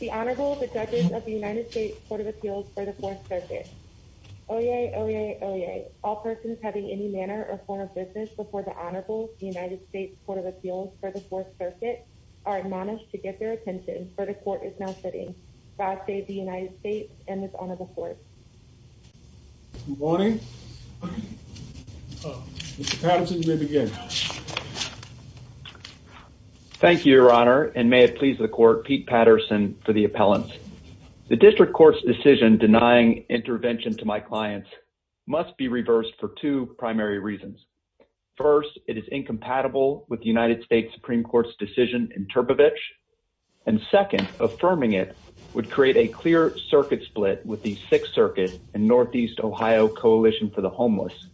The Honorable the Judge of the United States Court of Appeals for the Fourth Circuit. Oyez, oyez, oyez. All persons having any manner or form of business before the Honorable of the United States Court of Appeals for the Fourth Circuit are admonished to get their attention, for the Court is now sitting. God save the United States and this Honorable Court. Good morning. Mr. Patterson, you may begin. Thank you, Your Honor, and may it please the Court, Pete Patterson for the appellant. The District Court's decision denying intervention to my clients must be reversed for two primary reasons. First, it is incompatible with the United States Supreme Court's decision in Turbevich, and second, affirming it would create a clear circuit split with the Sixth Circuit and Northeast Ohio Coalition for the Homeless,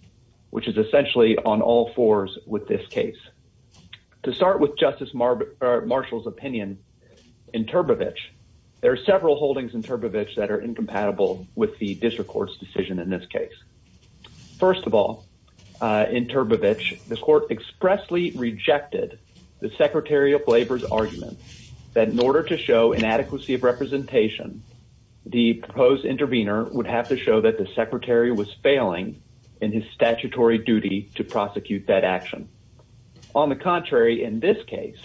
which is essentially on all fours with this case. To start with Justice Marshall's opinion in Turbevich, there are several holdings in Turbevich that are incompatible with the District Court's decision in this case. First of all, in Turbevich, the Court expressly rejected the Secretary of Labor's argument that in order to show inadequacy of representation, the proposed intervener would have to show that the Secretary was failing in his statutory duty to prosecute that action. On the contrary, in this case,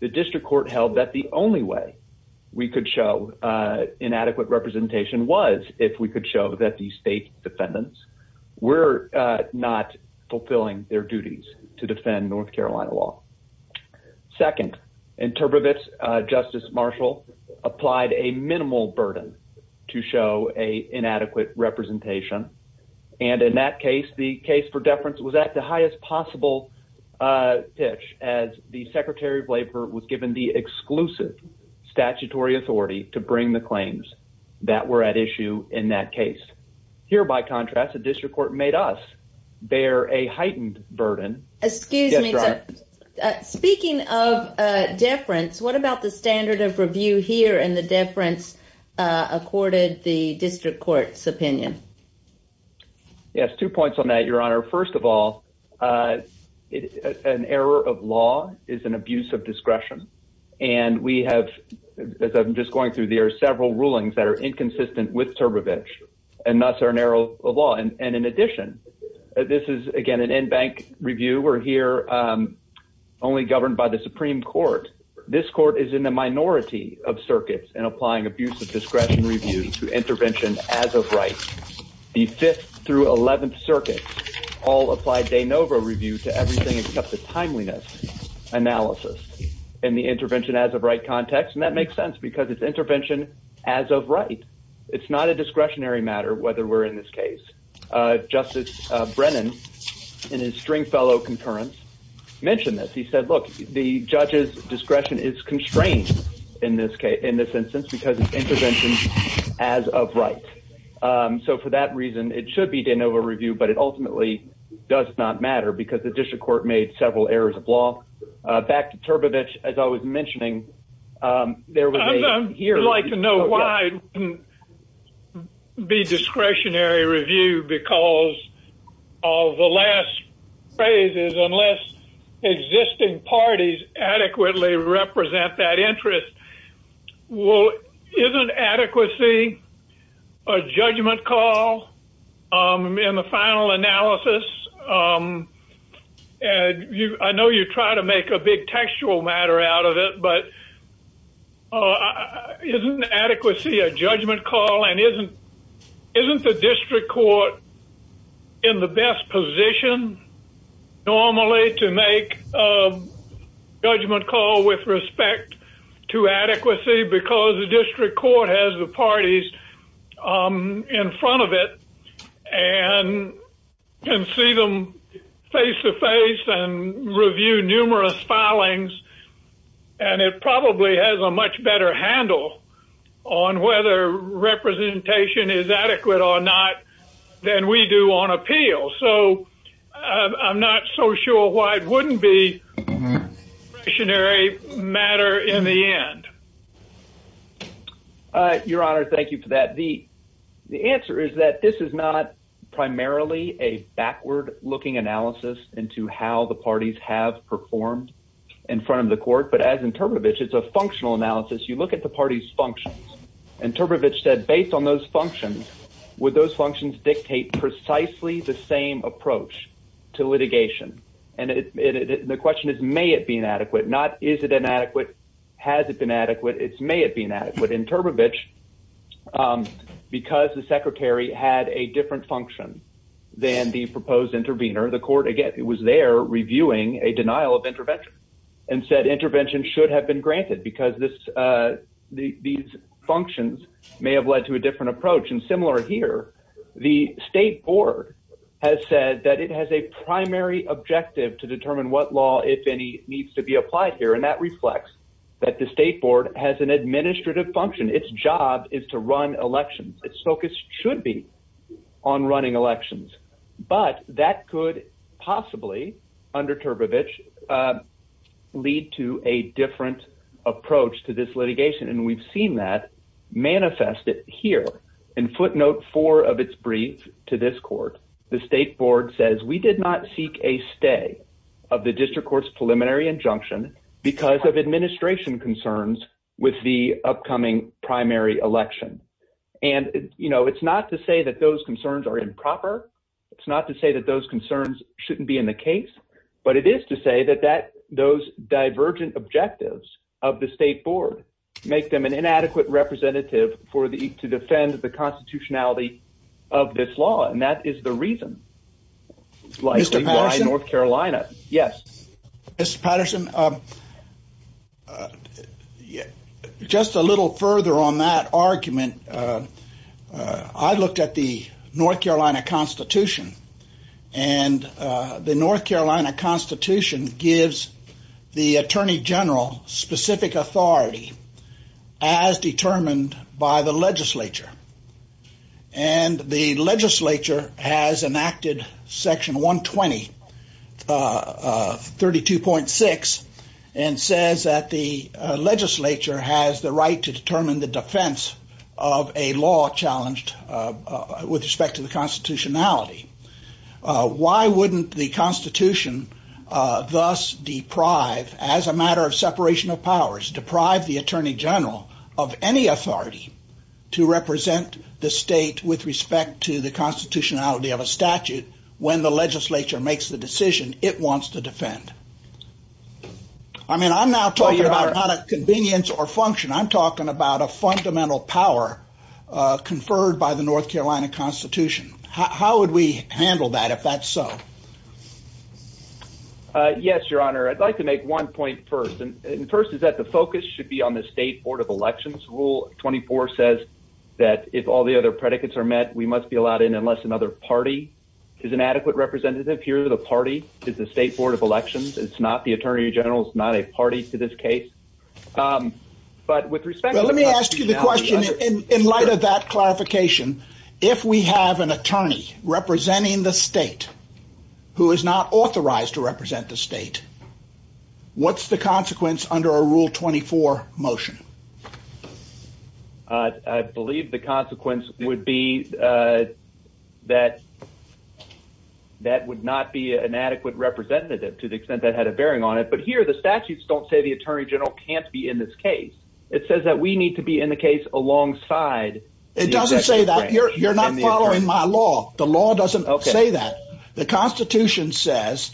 the District Court held that the only way we could show inadequate representation was if we could show that the state defendants were not fulfilling their duties to defend North Carolina law. Second, in Turbevich, Justice Marshall applied a minimal burden to show an inadequate representation, and in that case, the case for deference was at the highest possible pitch as the Secretary of Labor was given the exclusive statutory authority to bring the claims that were at issue in that case. Here, by contrast, the District Court made us bear a heightened burden. Excuse me, sir. Speaking of deference, what about the standard of review here and the deference accorded the District Court's opinion? Yes, two points on that, Your Honor. First of all, an error of law is an abuse of discretion, and we have, as I'm just going through, there are several rulings that are inconsistent with Turbevich, and thus are an error of law. And in addition, this is, again, an in-bank review. We're here only governed by the Supreme Court. This court is in the minority of circuits in applying abuse of discretion review to intervention as of right. The Fifth through Eleventh Circuit all applied de novo review to everything except the timeliness analysis in the intervention as of right context, and that makes sense because it's intervention as of right. It's not a discretionary matter whether we're in this case. Justice Brennan, in his string fellow concurrence, mentioned this. He said, look, the judge's discretion is constrained in this instance because it's intervention as of right. So for that reason, it should be de novo review, but it ultimately does not matter because the District Court made several errors of law. Back to Turbevich, as I was mentioning. I'd like to know why it can't be discretionary review because of the last phrase is unless existing parties adequately represent that interest, isn't adequacy a judgment call in the final analysis? I know you try to make a big textual matter out of it, but isn't adequacy a judgment call? Isn't the District Court in the best position normally to make a judgment call with respect to adequacy because the District Court has the parties in front of it and can see them face-to-face and review numerous filings? And it probably has a much better handle on whether representation is adequate or not than we do on appeal. So I'm not so sure why it wouldn't be a discretionary matter in the end. Your Honor, thank you for that. The answer is that this is not primarily a backward-looking analysis into how the parties have performed in front of the court. But as in Turbevich, it's a functional analysis. You look at the parties' functions. And Turbevich said, based on those functions, would those functions dictate precisely the same approach to litigation? And the question is, may it be inadequate? Not, is it inadequate? Has it been adequate? It's, may it be inadequate? In Turbevich, because the Secretary had a different function than the proposed intervener, the court, again, was there reviewing a denial of intervention and said intervention should have been granted because these functions may have led to a different approach. The State Board has said that it has a primary objective to determine what law, if any, needs to be applied here. And that reflects that the State Board has an administrative function. Its job is to run elections. Its focus should be on running elections. But that could possibly, under Turbevich, lead to a different approach to this litigation. And we've seen that manifested here. In footnote 4 of its brief to this court, the State Board says, we did not seek a stay of the district court's preliminary injunction because of administration concerns with the upcoming primary election. And, you know, it's not to say that those concerns are improper. It's not to say that those concerns shouldn't be in the case. But it is to say that those divergent objectives of the State Board make them an inadequate representative to defend the constitutionality of this law. And that is the reason why North Carolina. Yes. Mr. Patterson, just a little further on that argument, I looked at the North Carolina Constitution. And the North Carolina Constitution gives the Attorney General specific authority as determined by the legislature. And the legislature has enacted section 120, 32.6, and says that the legislature has the right to determine the defense of a law challenged with respect to the constitutionality. Why wouldn't the Constitution thus deprive, as a matter of separation of powers, deprive the Attorney General of any authority to represent the state with respect to the constitutionality of a statute when the legislature makes the decision it wants to defend? I mean, I'm not talking about a convenience or function. I'm talking about a fundamental power conferred by the North Carolina Constitution. How would we handle that, if that's so? Yes, Your Honor. I'd like to make one point first. And the first is that the focus should be on the State Board of Elections. Rule 24 says that if all the other predicates are met, we must be allowed in unless another party is an adequate representative. Here, the party is the State Board of Elections. It's not the Attorney General. It's not a party to this case. Let me ask you the question in light of that clarification. If we have an attorney representing the state who is not authorized to represent the state, what's the consequence under a Rule 24 motion? I believe the consequence would be that that would not be an adequate representative to the extent that had a bearing on it. But here, the statutes don't say the Attorney General can't be in this case. It says that we need to be in the case alongside the Executive Branch. It doesn't say that. You're not following my law. The law doesn't say that. The Constitution says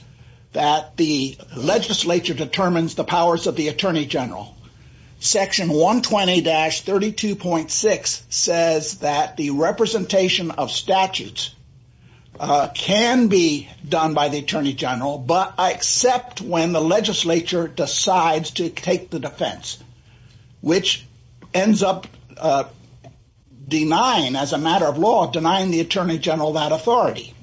that the legislature determines the powers of the Attorney General. Section 120-32.6 says that the representation of statutes can be done by the Attorney General but except when the legislature decides to take the defense, which ends up denying, as a matter of law, denying the Attorney General that authority.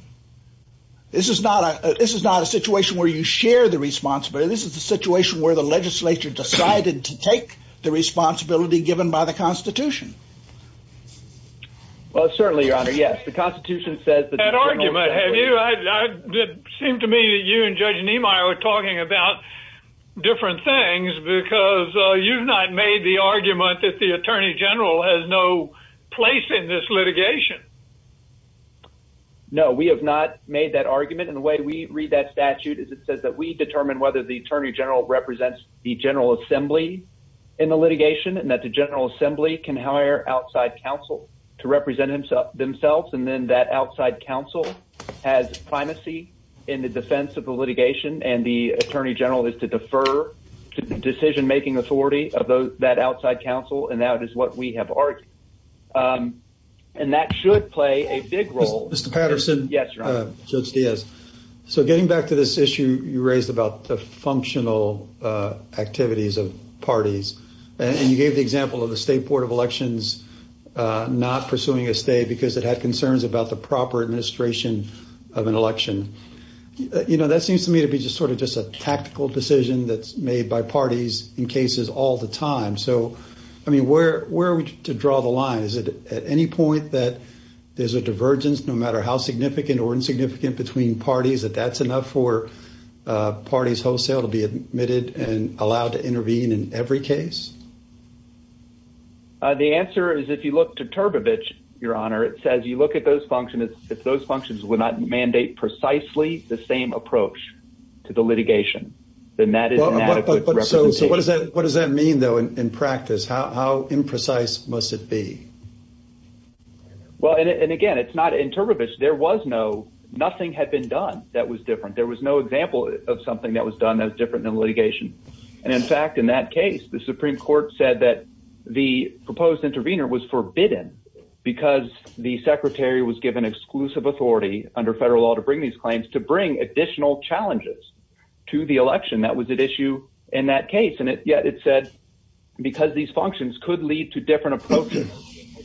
This is not a situation where you share the responsibility. This is a situation where the legislature decided to take the responsibility given by the Constitution. Well, certainly, Your Honor, yes. The Constitution says that... That argument. It seemed to me that you and Judge Niemeyer were talking about different things because you've not made the argument that the Attorney General has no place in this litigation. No, we have not made that argument. And the way we read that statute is it says that we determine whether the Attorney General represents the General Assembly in the litigation and that the General Assembly can hire outside counsel to represent themselves. And then that outside counsel has primacy in the defense of the litigation, and the Attorney General is to defer to the decision-making authority of that outside counsel, and that is what we have argued. And that should play a big role. Mr. Patterson. Yes, Your Honor. Judge Diaz. So getting back to this issue you raised about the functional activities of parties, and you gave the example of the State Board of Elections not pursuing a stay because it had concerns about the proper administration of an election. You know, that seems to me to be just sort of just a tactical decision that's made by parties in cases all the time. So, I mean, where are we to draw the line? Is it at any point that there's a divergence no matter how significant or insignificant between parties, that that's enough for parties wholesale to be admitted and allowed to intervene in every case? The answer is if you look to Turbevich, Your Honor, it says you look at those functions, if those functions would not mandate precisely the same approach to the litigation, then that is an adequate representation. So what does that mean, though, in practice? How imprecise must it be? Well, and again, it's not in Turbevich. There was no – nothing had been done that was different. There was no example of something that was done that was different in litigation. And in fact, in that case, the Supreme Court said that the proposed intervener was forbidden because the secretary was given exclusive authority under federal law to bring these claims to bring additional challenges to the election. That was at issue in that case, and yet it said because these functions could lead to different approaches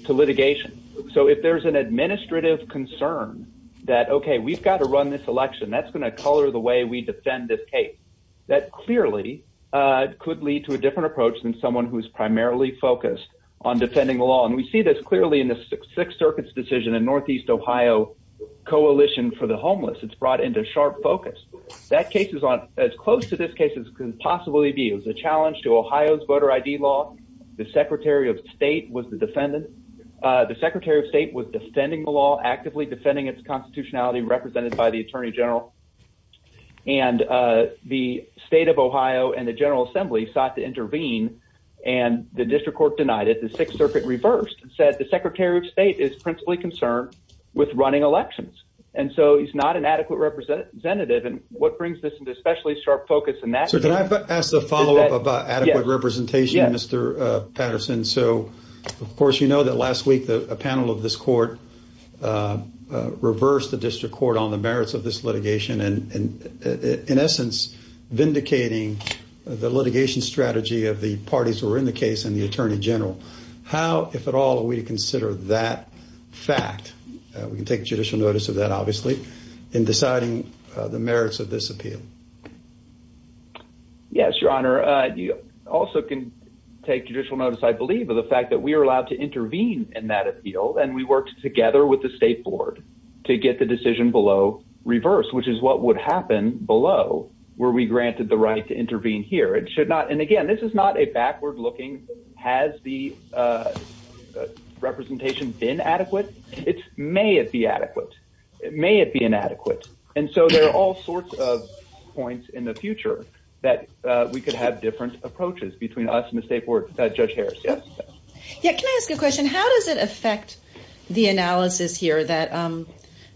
to litigation. So if there's an administrative concern that, okay, we've got to run this election, that's going to color the way we defend this case, that clearly could lead to a different approach than someone who is primarily focused on defending the law. And we see this clearly in the Sixth Circuit's decision in Northeast Ohio Coalition for the Homeless. It's brought into sharp focus. That case was on – as close to this case as could possibly be. It was a challenge to Ohio's voter ID law. The secretary of state was the defendant. The secretary of state was defending the law, actively defending its constitutionality, represented by the attorney general. And the state of Ohio and the General Assembly sought to intervene, and the district court denied it. The Sixth Circuit reversed and said the secretary of state is principally concerned with running elections. And so he's not an adequate representative. And what brings this into especially sharp focus in that – Sir, can I ask a follow-up about adequate representation, Mr. Patterson? So, of course, you know that last week a panel of this court reversed the district court on the merits of this litigation and, in essence, vindicating the litigation strategy of the parties who were in the case and the attorney general. How, if at all, do we consider that fact? We can take judicial notice of that, obviously, in deciding the merits of this appeal. Yes, Your Honor. You also can take judicial notice, I believe, of the fact that we were allowed to intervene in that appeal, and we worked together with the state board to get the decision below reversed, which is what would happen below were we granted the right to intervene here. It should not – and, again, this is not a backward-looking has the representation been adequate. It's may it be adequate. May it be inadequate. And so there are all sorts of points in the future that we could have different approaches between us and the state board. Judge Harris, yes? Yes, can I ask a question? How does it affect the analysis here that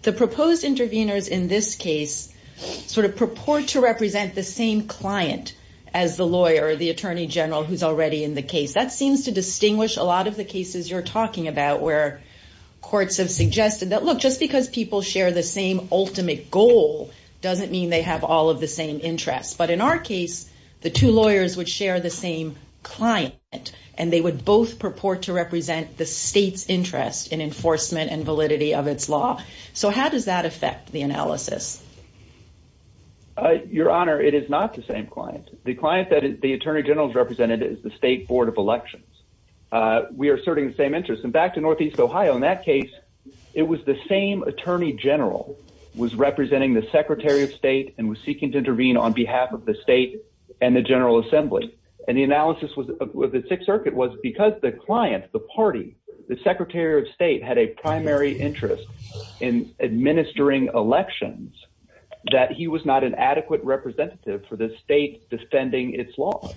the proposed interveners in this case sort of purport to represent the same client as the lawyer or the attorney general who's already in the case? That seems to distinguish a lot of the cases you're talking about where courts have suggested that, look, just because people share the same ultimate goal doesn't mean they have all of the same interests. But in our case, the two lawyers would share the same client, and they would both purport to represent the state's interest in enforcement and validity of its law. So how does that affect the analysis? Your Honor, it is not the same client. The client that the attorney general has represented is the state board of elections. We are asserting the same interests. And back to northeast Ohio, in that case, it was the same attorney general who was representing the secretary of state and was seeking to intervene on behalf of the state and the general assembly. And the analysis of the Sixth Circuit was because the client, the party, the secretary of state had a primary interest in administering elections, that he was not an adequate representative for the state defending its laws,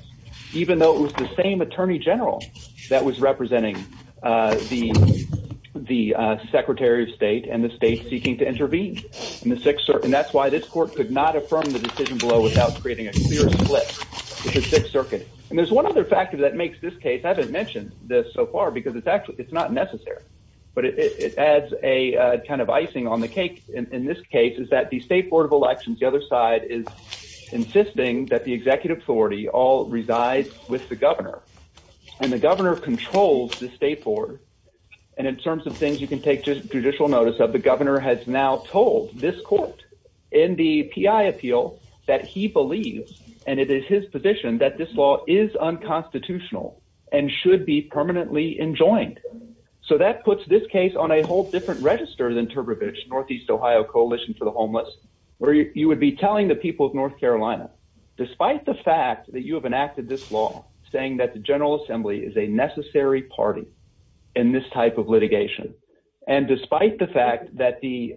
even though it was the same attorney general that was representing the secretary of state and the state seeking to intervene. And that's why this court could not affirm the decision below without creating a clear split with the Sixth Circuit. And there's one other factor that makes this case, I haven't mentioned this so far because it's not necessary, but it adds a kind of icing on the cake in this case is that the state board of elections, the other side, is insisting that the executive authority all resides with the governor. And the governor controls the state board. And in terms of things you can take judicial notice of, the governor has now told this court in the P.I. appeal that he believes, and it is his position, that this law is unconstitutional and should be permanently enjoined. So that puts this case on a whole different register than Turbevich, Northeast Ohio Coalition for the Homeless, where you would be telling the people of North Carolina, despite the fact that you have enacted this law, saying that the General Assembly is a necessary party in this type of litigation, and despite the fact that the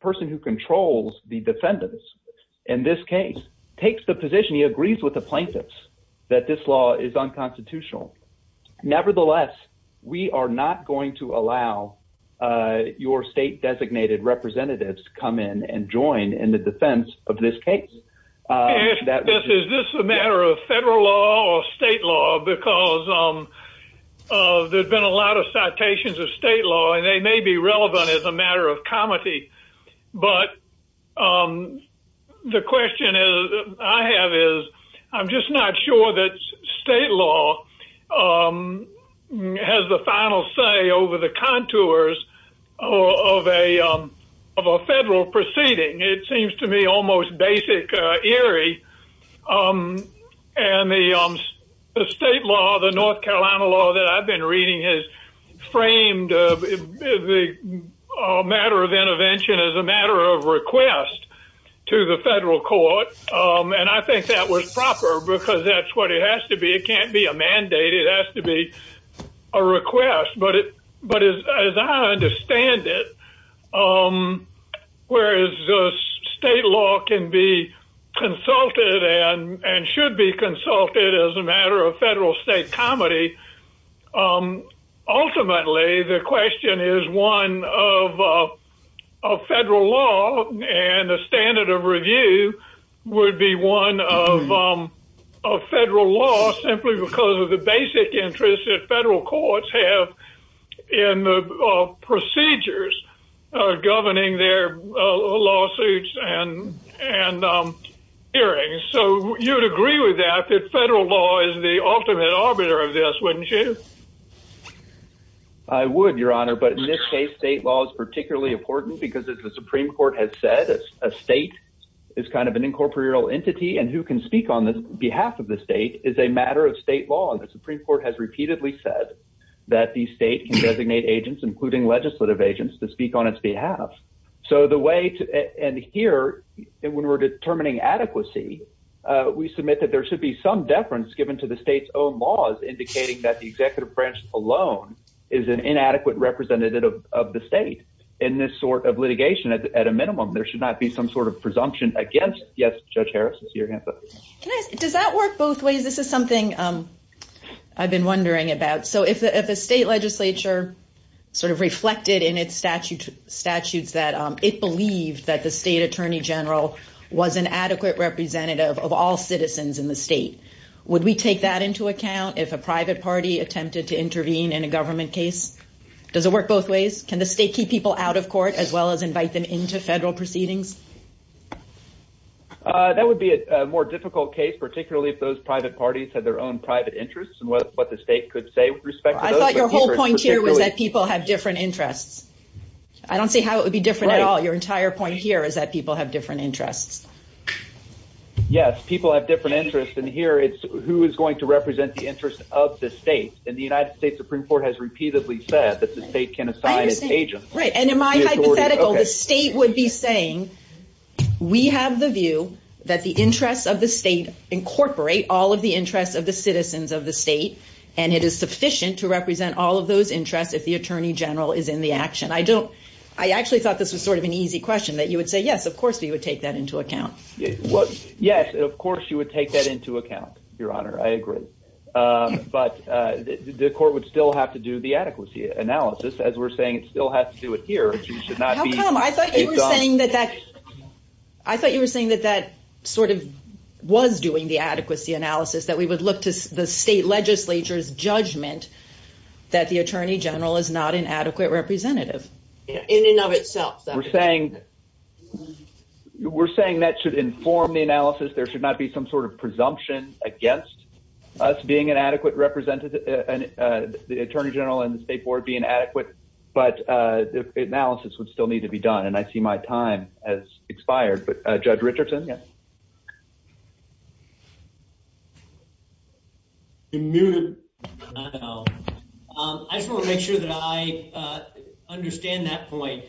person who controls the defendants in this case takes the position, he agrees with the plaintiffs that this law is unconstitutional. Nevertheless, we are not going to allow your state-designated representatives to come in and join in the defense of this case. Is this a matter of federal law or state law? Because there's been a lot of citations of state law, and they may be relevant as a matter of comity. But the question I have is, I'm just not sure that state law has the final say over the contours of a federal proceeding. It seems to me almost basic, eerie. And the state law, the North Carolina law that I've been reading, has framed the matter of intervention as a matter of request to the federal court. And I think that was proper, because that's what it has to be. It can't be a mandate. It has to be a request. But as I understand it, whereas state law can be consulted and should be consulted as a matter of federal-state comity, ultimately the question is one of federal law, and the standard of review would be one of federal law, simply because of the basic interests that federal courts have in the procedures governing their lawsuits and hearings. So you would agree with that, that federal law is the ultimate arbiter of this, wouldn't you? I would, Your Honor. But in this case, state law is particularly important because, as the Supreme Court has said, a state is kind of an incorporeal entity, and who can speak on behalf of the state is a matter of state law. The Supreme Court has repeatedly said that the state can designate agents, including legislative agents, to speak on its behalf. So the way to end here, when we're determining adequacy, we submit that there should be some deference given to the state's own laws, indicating that the executive branch alone is an inadequate representative of the state. In this sort of litigation, at a minimum, there should not be some sort of presumption against it. Yes, Judge Harris? Does that work both ways? This is something I've been wondering about. So if a state legislature sort of reflected in its statutes that it believed that the state attorney general was an adequate representative of all citizens in the state, would we take that into account if a private party attempted to intervene in a government case? Does it work both ways? Can the state keep people out of court as well as invite them into federal proceedings? That would be a more difficult case, particularly if those private parties had their own private interests, and what the state could say with respect to those. I thought your whole point here was that people have different interests. I don't see how it would be different at all. Your entire point here is that people have different interests. Yes, people have different interests, and here it's who is going to represent the interests of the state. And the United States Supreme Court has repeatedly said that the state can assign its agents. Right, and in my hypothetical, the state would be saying, we have the view that the interests of the state incorporate all of the interests of the citizens of the state, and it is sufficient to represent all of those interests if the attorney general is in the action. I actually thought this was sort of an easy question, that you would say, yes, of course you would take that into account. Yes, of course you would take that into account, Your Honor, I agree. But the court would still have to do the adequacy analysis, as we're saying it still has to do it here. How come? I thought you were saying that that sort of was doing the adequacy analysis, that we would look to the state legislature's judgment that the attorney general is not an adequate representative. In and of itself. We're saying that should inform the analysis, there should not be some sort of presumption against us being an adequate representative, the attorney general and the state board being adequate, but the analysis would still need to be done, and I see my time has expired, but Judge Richardson? I just want to make sure that I understand that point.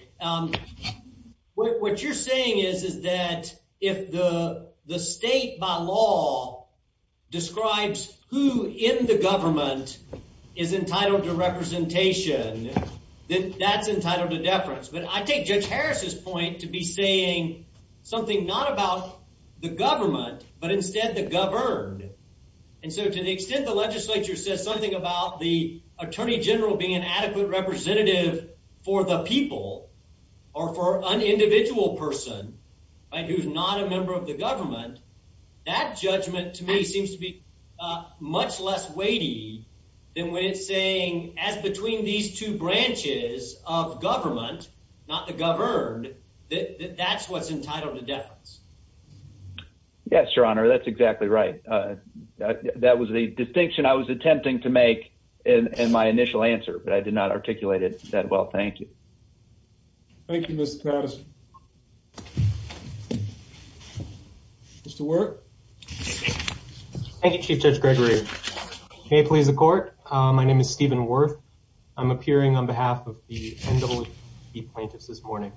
What you're saying is that if the state by law describes who in the government is entitled to representation, that that's entitled to deference. But I think Judge Harris's point to be saying something not about the government, but instead the governed. And so to the extent the legislature says something about the attorney general being an adequate representative for the people, or for an individual person who's not a member of the government, that judgment to me seems to be much less weighty than when it's saying as between these two branches of government, not the governed, that that's what's entitled to deference. Yes, Your Honor, that's exactly right. That was the distinction I was attempting to make in my initial answer, but I did not articulate it that well. Thank you. Thank you, Mr. Patterson. Mr. Wirth? Thank you, Chief Judge Gregory. May it please the court, my name is Stephen Wirth. I'm appearing on behalf of the NWC plaintiffs this morning.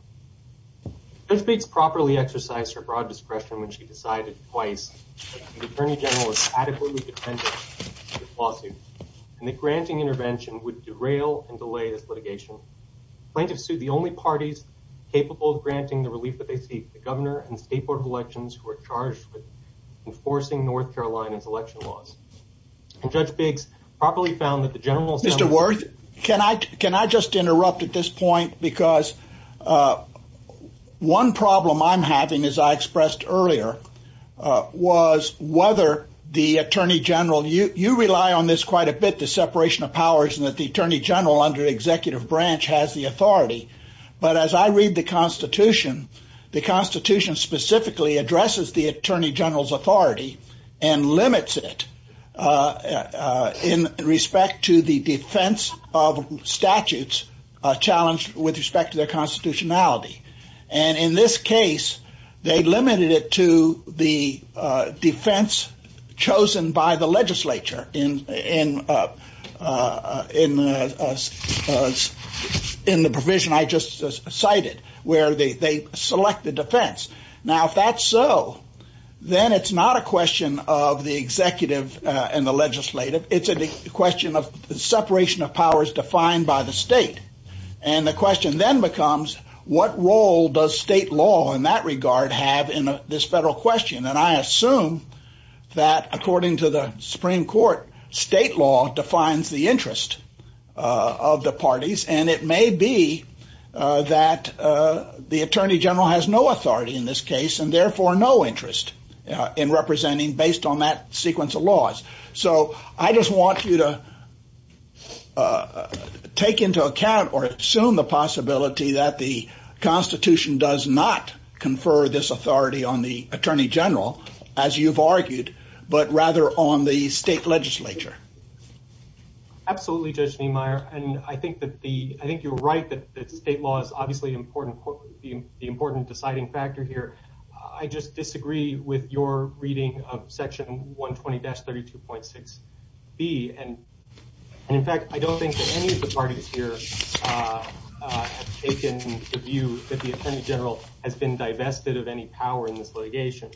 Ms. Bates properly exercised her broad discretion when she decided twice that the attorney general was adequately dependent on this lawsuit, and that granting intervention would derail and delay the litigation. Plaintiffs sued the only parties capable of granting the relief that they seek, the governor and state board of elections, who are charged with enforcing North Carolina's election laws. And Judge Biggs properly found that the general... Mr. Wirth, can I just interrupt at this point? Because one problem I'm having, as I expressed earlier, was whether the attorney general... But as I read the Constitution, the Constitution specifically addresses the attorney general's authority and limits it in respect to the defense of statutes challenged with respect to their constitutionality. And in this case, they limited it to the defense chosen by the legislature in the provision I just cited, where they select the defense. Now, if that's so, then it's not a question of the executive and the legislative. It's a question of separation of powers defined by the state. And the question then becomes, what role does state law in that regard have in this federal question? And I assume that, according to the Supreme Court, state law defines the interest of the parties. And it may be that the attorney general has no authority in this case, and therefore no interest in representing based on that sequence of laws. So I just want you to take into account or assume the possibility that the Constitution does not confer this authority on the attorney general, as you've argued, but rather on the state legislature. Absolutely, Judge Neumeier. And I think you're right that state law is obviously the important deciding factor here. I just disagree with your reading of section 120-32.6B. And, in fact, I don't think that any of the parties here have taken the view that the attorney general has been divested of any power in this litigation.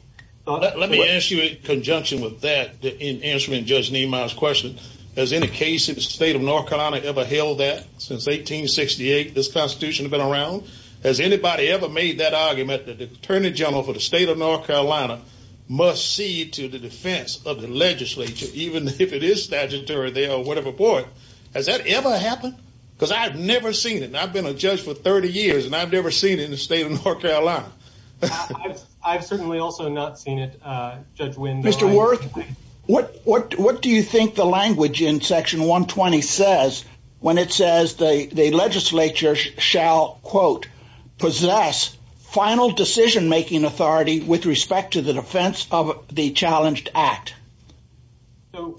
Let me ask you in conjunction with that, in answering Judge Neumeier's question, has any case in the state of North Carolina ever held that since 1868 this Constitution has been around? Has anybody ever made that argument that the attorney general for the state of North Carolina must cede to the defense of the legislature, even if it is statutory there or whatever for it? Has that ever happened? Because I've never seen it, and I've been a judge for 30 years, and I've never seen it in the state of North Carolina. I've certainly also not seen it, Judge Wendell. Mr. Wirth, what do you think the language in section 120 says when it says the legislature shall, quote, possess final decision-making authority with respect to the defense of the challenged act?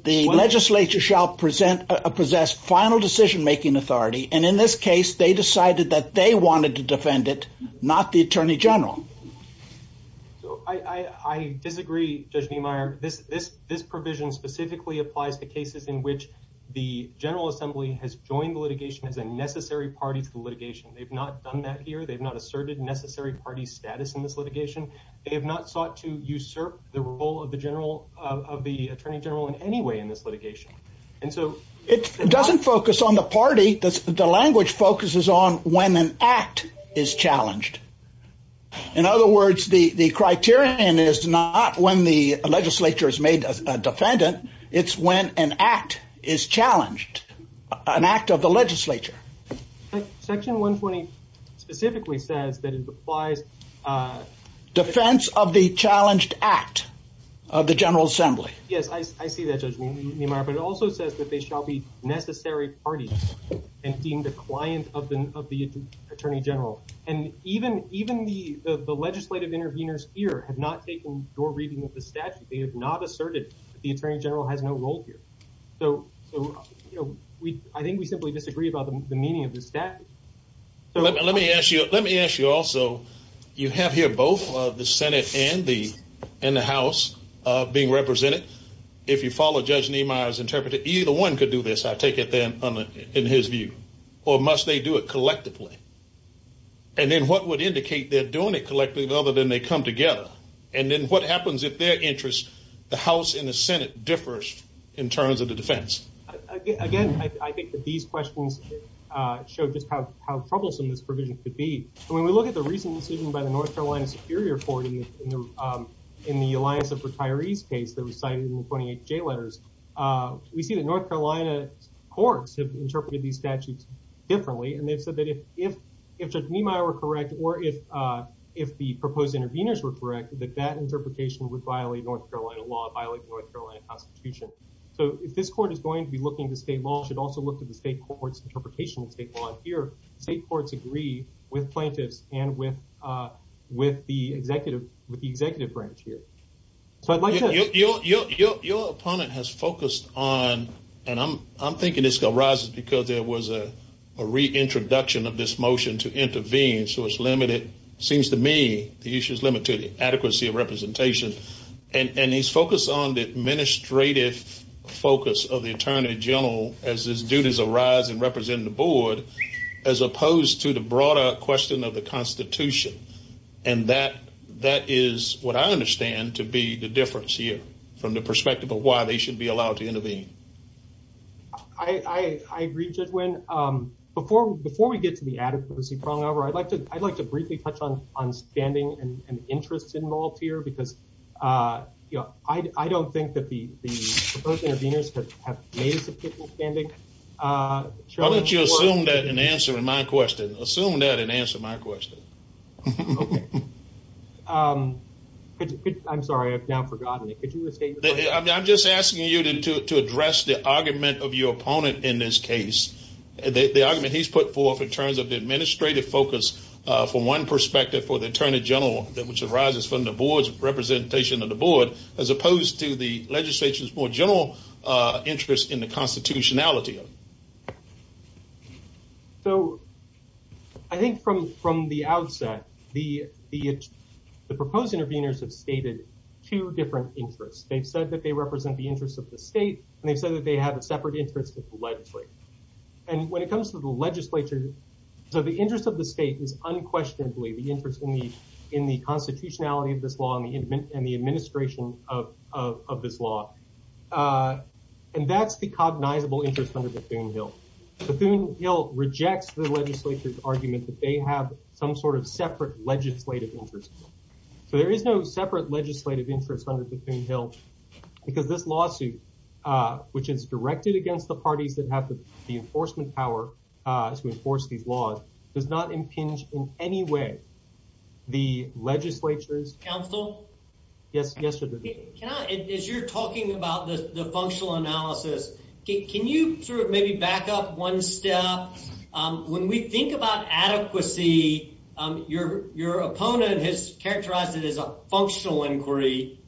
The legislature shall possess final decision-making authority, and in this case they decided that they wanted to defend it, not the attorney general. I disagree, Judge Neumeier. This provision specifically applies to cases in which the General Assembly has joined litigation as a necessary party for litigation. They've not done that here. They've not asserted necessary party status in this litigation. They have not sought to usurp the role of the attorney general in any way in this litigation. It doesn't focus on the party. The language focuses on when an act is challenged. In other words, the criterion is not when the legislature is made a defendant. It's when an act is challenged, an act of the legislature. Section 120 specifically says that it applies… Defense of the challenged act of the General Assembly. Yes, I see that, Judge Neumeier, but it also says that they shall be necessary parties in being the client of the attorney general. And even the legislative interveners here have not taken your reading of the statute. They have not asserted that the attorney general has no role here. So, you know, I think we simply disagree about the meaning of the statute. Let me ask you also, you have here both the Senate and the House being represented. If you follow Judge Neumeier's interpretation, either one could do this, I take it, in his view. Or must they do it collectively? And then what would indicate they're doing it collectively other than they come together? And then what happens if their interest, the House and the Senate, differs in terms of the defense? Again, I think that these questions show just how troublesome this provision could be. When we look at the recent decision by the North Carolina Superior Court in the Alliance of Retirees case that was cited in the 28th J letters, we see that North Carolina courts have interpreted these statutes differently. And they said that if Judge Neumeier were correct or if the proposed interveners were correct, that that interpretation would violate North Carolina law, violate North Carolina constitution. So if this court is going to be looking at state law, it should also look at the state court's interpretation of state law. Here, state courts agree with Plantez and with the executive branch here. Your opponent has focused on, and I'm thinking this arises because there was a reintroduction of this motion to intervene, so it's limited, it seems to me, the issue is limited to adequacy of representation. And he's focused on the administrative focus of the attorney general as his duties arise in representing the board, as opposed to the broader question of the constitution. And that is what I understand to be the difference here from the perspective of why they should be allowed to intervene. I agree, Jedwin. Before we get to the adequacy, I'd like to briefly touch on standing and interest involved here, because I don't think that the proposed interveners have made a particular standing. Why don't you assume that and answer my question. Assume that and answer my question. Okay. I'm sorry, I've now forgotten it. I'm just asking you to address the argument of your opponent in this case, the argument he's put forth in terms of the administrative focus from one perspective for the attorney general, which arises from the board's representation of the board, as opposed to the legislature's more general interest in the constitutionality. So I think from the outset, the proposed interveners have stated two different interests. They said that they represent the interest of the state, and they said that they have a separate interest with the legislature. And when it comes to the legislature, the interest of the state is unquestionably the interest in the constitutionality of this law and the administration of this law. And that's the cognizable interest under the Thune-Hill. The Thune-Hill rejects the legislature's argument that they have some sort of separate legislative interest. So there is no separate legislative interest under the Thune-Hill, because this lawsuit, which is directed against the parties that have the enforcement power to enforce these laws, does not impinge in any way the legislature's counsel. Yes, yes. As you're talking about the functional analysis, can you sort of maybe back up one step? When we think about adequacy, your opponent has characterized it as a functional inquiry.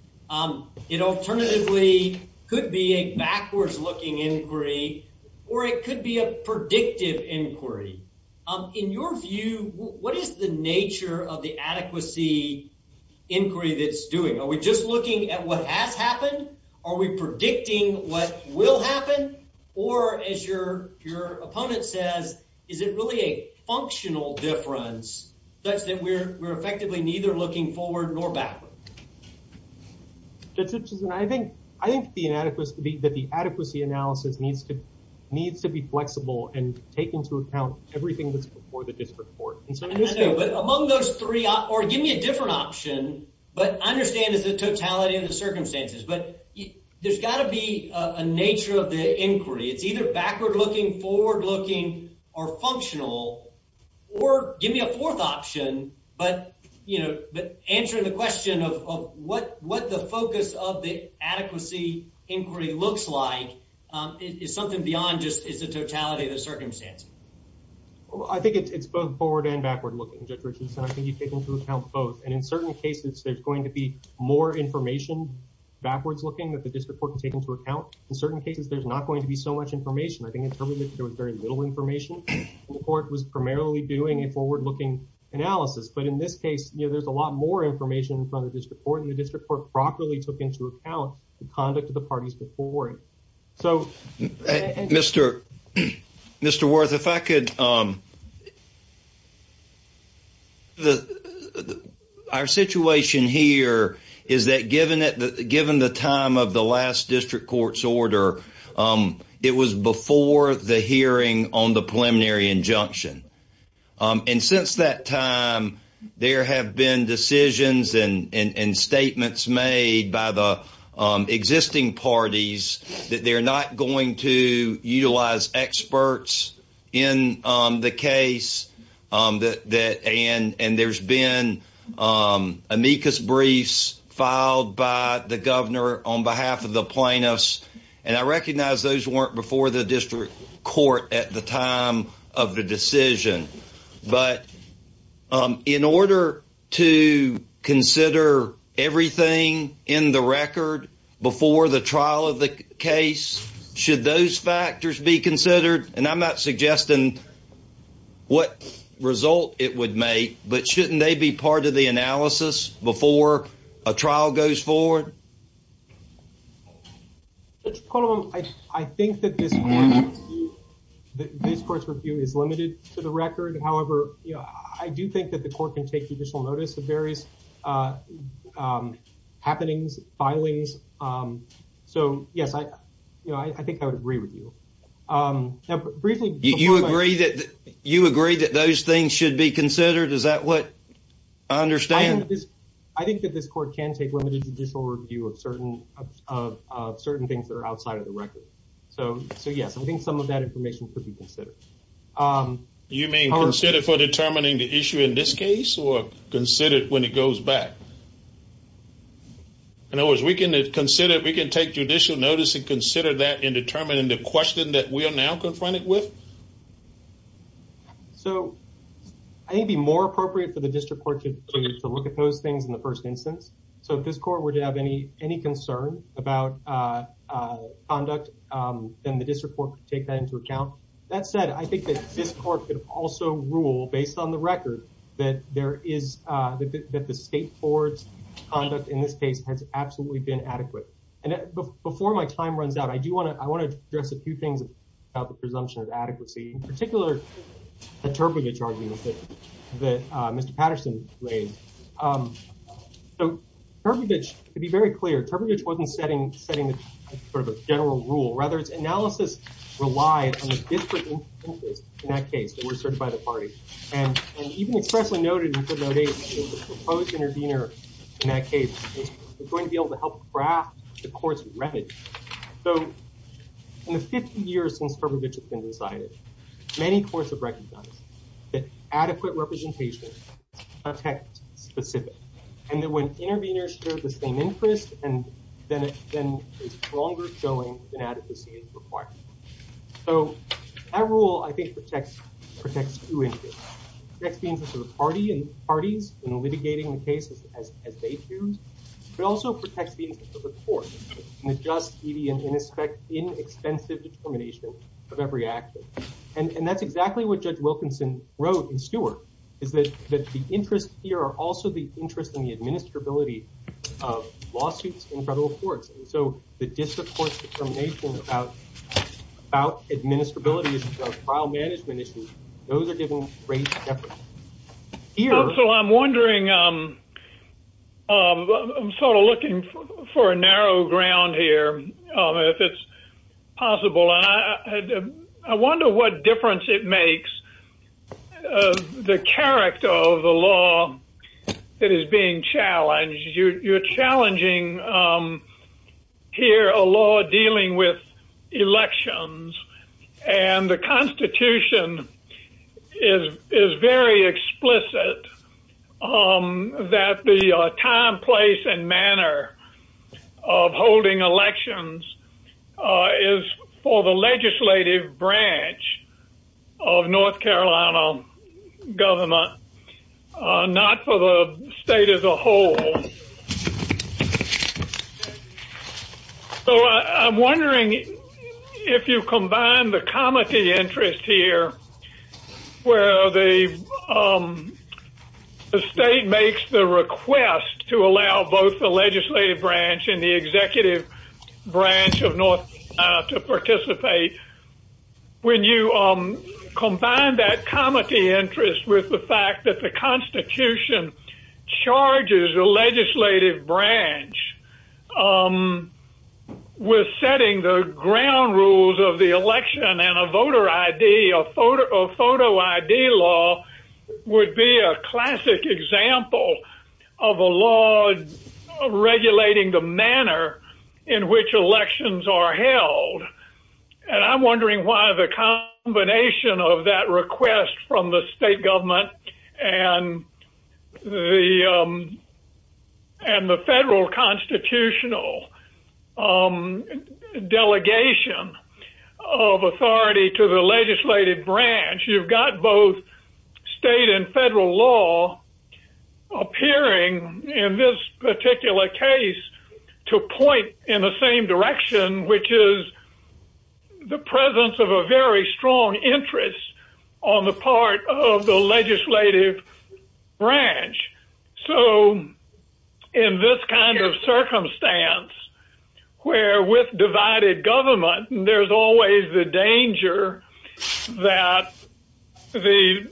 It alternatively could be a backwards-looking inquiry, or it could be a predictive inquiry. In your view, what is the nature of the adequacy inquiry that it's doing? Are we just looking at what has happened? Are we predicting what will happen? Or, as your opponent said, is it really a functional difference such that we're effectively neither looking forward nor backward? I think the adequacy analysis needs to be flexible and taking into account everything that's before the district court. Among those three, or give me a different option, but I understand it's a totality of the circumstances. But there's got to be a nature of the inquiry. It's either backward-looking, forward-looking, or functional. Or give me a fourth option, but answering the question of what the focus of the adequacy inquiry looks like I think it's both forward and backward-looking. And I think you take into account both. And in certain cases, there's going to be more information backwards-looking that the district court can take into account. In certain cases, there's not going to be so much information. I think in some cases, there was very little information. The court was primarily doing a forward-looking analysis. But in this case, there's a lot more information in front of the district court. And the district court properly took into account the conduct of the parties before it. So, Mr. Worth, if I could, our situation here is that given the time of the last district court's order, it was before the hearing on the preliminary injunction. And since that time, there have been decisions and statements made by the existing parties that they're not going to utilize experts in the case. And there's been amicus briefs filed by the governor on behalf of the plaintiffs. And I recognize those weren't before the district court at the time of the decision. But in order to consider everything in the record before the trial of the case, should those factors be considered? And I'm not suggesting what result it would make, but shouldn't they be part of the analysis before a trial goes forward? I think that this court's review is limited to the record. However, I do think that the court can take additional notice of various happenings, filings. So, yes, I think I would agree with you. Do you agree that those things should be considered? Is that what I understand? I think that this court can take limited judicial review of certain things that are outside of the record. So, yes, I think some of that information could be considered. You mean consider for determining the issue in this case or consider it when it goes back? In other words, we can consider it. We can take judicial notice and consider that in determining the question that we are now confronted with? So, I think it would be more appropriate for the district court to look at those things in the first instance. So, if this court were to have any concern about conduct, then the district court could take that into account. That said, I think that this court could also rule, based on the record, that the state board's conduct in this case has absolutely been adequate. And before my time runs out, I do want to address a few things about the presumption of adequacy. In particular, the Terpevich argument that Mr. Patterson laid. So, Terpevich, to be very clear, Terpevich wasn't setting sort of a general rule. Rather, its analysis relies on the district instances in that case that were served by the party. And even if Pressley noted in Subnote 8 that the proposed intervener in that case was going to be able to help craft the court's remedy. So, in the 50 years since Terpevich has been decided, many courts have recognized that adequate representation affects specifics. And that when interveners serve the same interest, then it's a stronger showing that adequacy is required. So, that rule, I think, protects two things. It protects the interest of the parties in litigating the cases as they choose. It also protects the interest of the court in the just, duty, and inexpensive determination of every action. And that's exactly what Judge Wilkinson wrote in Stewart. That the interest here are also the interest in the administrability of lawsuits in federal courts. And so, the disappointment about administrability of trial management issues, those are given great jeopardy. So, I'm wondering, I'm sort of looking for a narrow ground here, if it's possible. I wonder what difference it makes, the character of the law that is being challenged. You're challenging, here, a law dealing with elections. And the Constitution is very explicit that the time, place, and manner of holding elections is for the legislative branch of North Carolina government. Not for the state as a whole. So, I'm wondering if you combine the comity interest here, where the state makes the request to allow both the legislative branch and the executive branch of North Carolina to participate. When you combine that comity interest with the fact that the Constitution charges the legislative branch with setting the ground rules of the election and a voter ID or photo ID law would be a classic example of a law regulating the manner in which elections are held. And I'm wondering why the combination of that request from the state government and the federal constitutional delegation of authority to the legislative branch, you've got both state and federal law appearing in this particular case to point in the same direction, which is the presence of a very strong interest on the part of the legislative branch. So, in this kind of circumstance, where with divided government, there's always the danger that the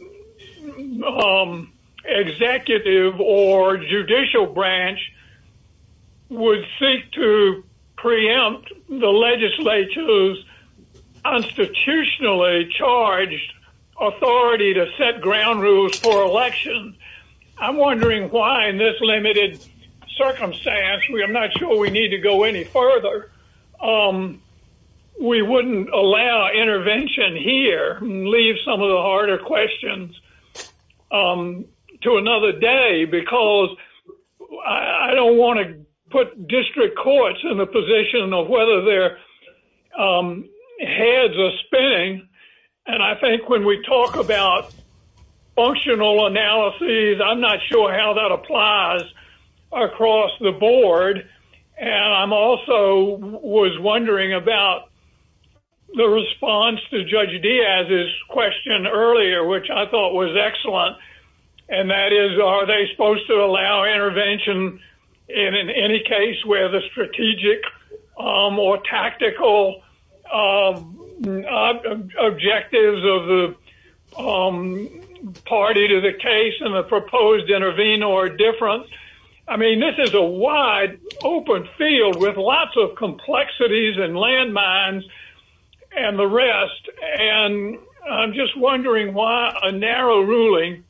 executive or judicial branch would seek to preempt the legislature's constitutionally charged authority to set ground rules for elections. I'm wondering why in this limited circumstance, I'm not sure we need to go any further, we wouldn't allow intervention here and leave some of the harder questions to another day because I don't want to put district courts in the position of whether their heads are spinning. And I think when we talk about functional analysis, I'm not sure how that applies across the board. And I also was wondering about the response to Judge Diaz's question earlier, which I thought was excellent. And that is, are they supposed to allow intervention in any case where the strategic or tactical objectives of the party to the case and the proposed intervenor are different? I mean, this is a wide open field with lots of complexities and landmines and the rest. And I'm just wondering why a narrow ruling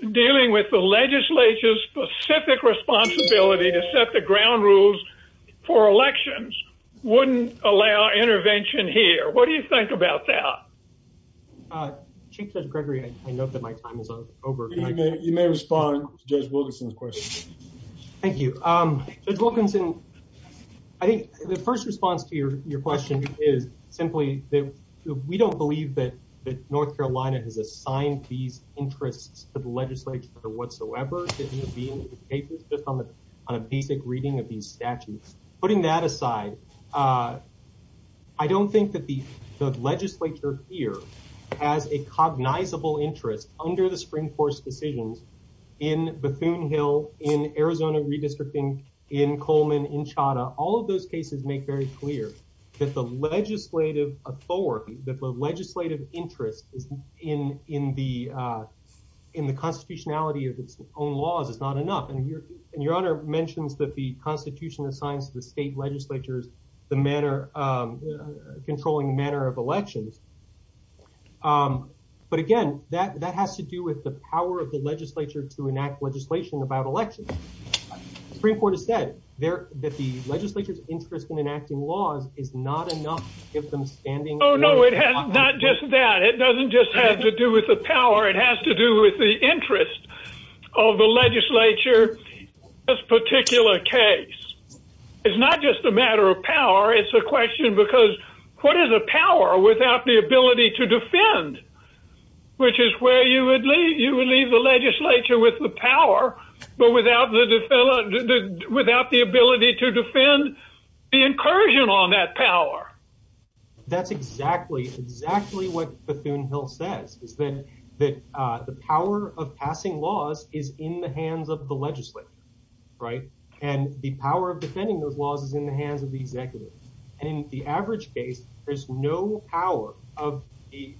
dealing with the legislature's specific responsibility to set the ground rules for elections wouldn't allow intervention here. What do you think about that? Chief Judge Gregory, I know that my time is over. You may respond to Judge Wilkinson's question. Thank you. Judge Wilkinson, I think the first response to your question is simply that we don't believe that North Carolina has assigned these interests to the legislature whatsoever. Putting that aside, I don't think that the legislature here has a cognizable interest under the Supreme Court's decision in Bethune Hill, in Arizona redistricting, in Coleman, in Chadha. All of those cases make very clear that the legislative authority, that the legislative interest in the constitutionality of its own laws is not enough. And Your Honor mentioned that the Constitution assigns the state legislatures the manner, controlling the manner of elections. But again, that has to do with the power of the legislature to enact legislation about elections. Supreme Court has said that the legislature's interest in enacting laws is not enough. Oh no, it has not just that. It doesn't just have to do with the power. It has to do with the interest of the legislature in this particular case. It's not just a matter of power. It's a question because what is a power without the ability to defend? Which is where you would leave the legislature with the power, but without the ability to defend the incursion on that power. That's exactly, exactly what Bethune Hill says. That the power of passing laws is in the hands of the legislature, right? And the power of defending those laws is in the hands of the executive. In the average case, there's no power of the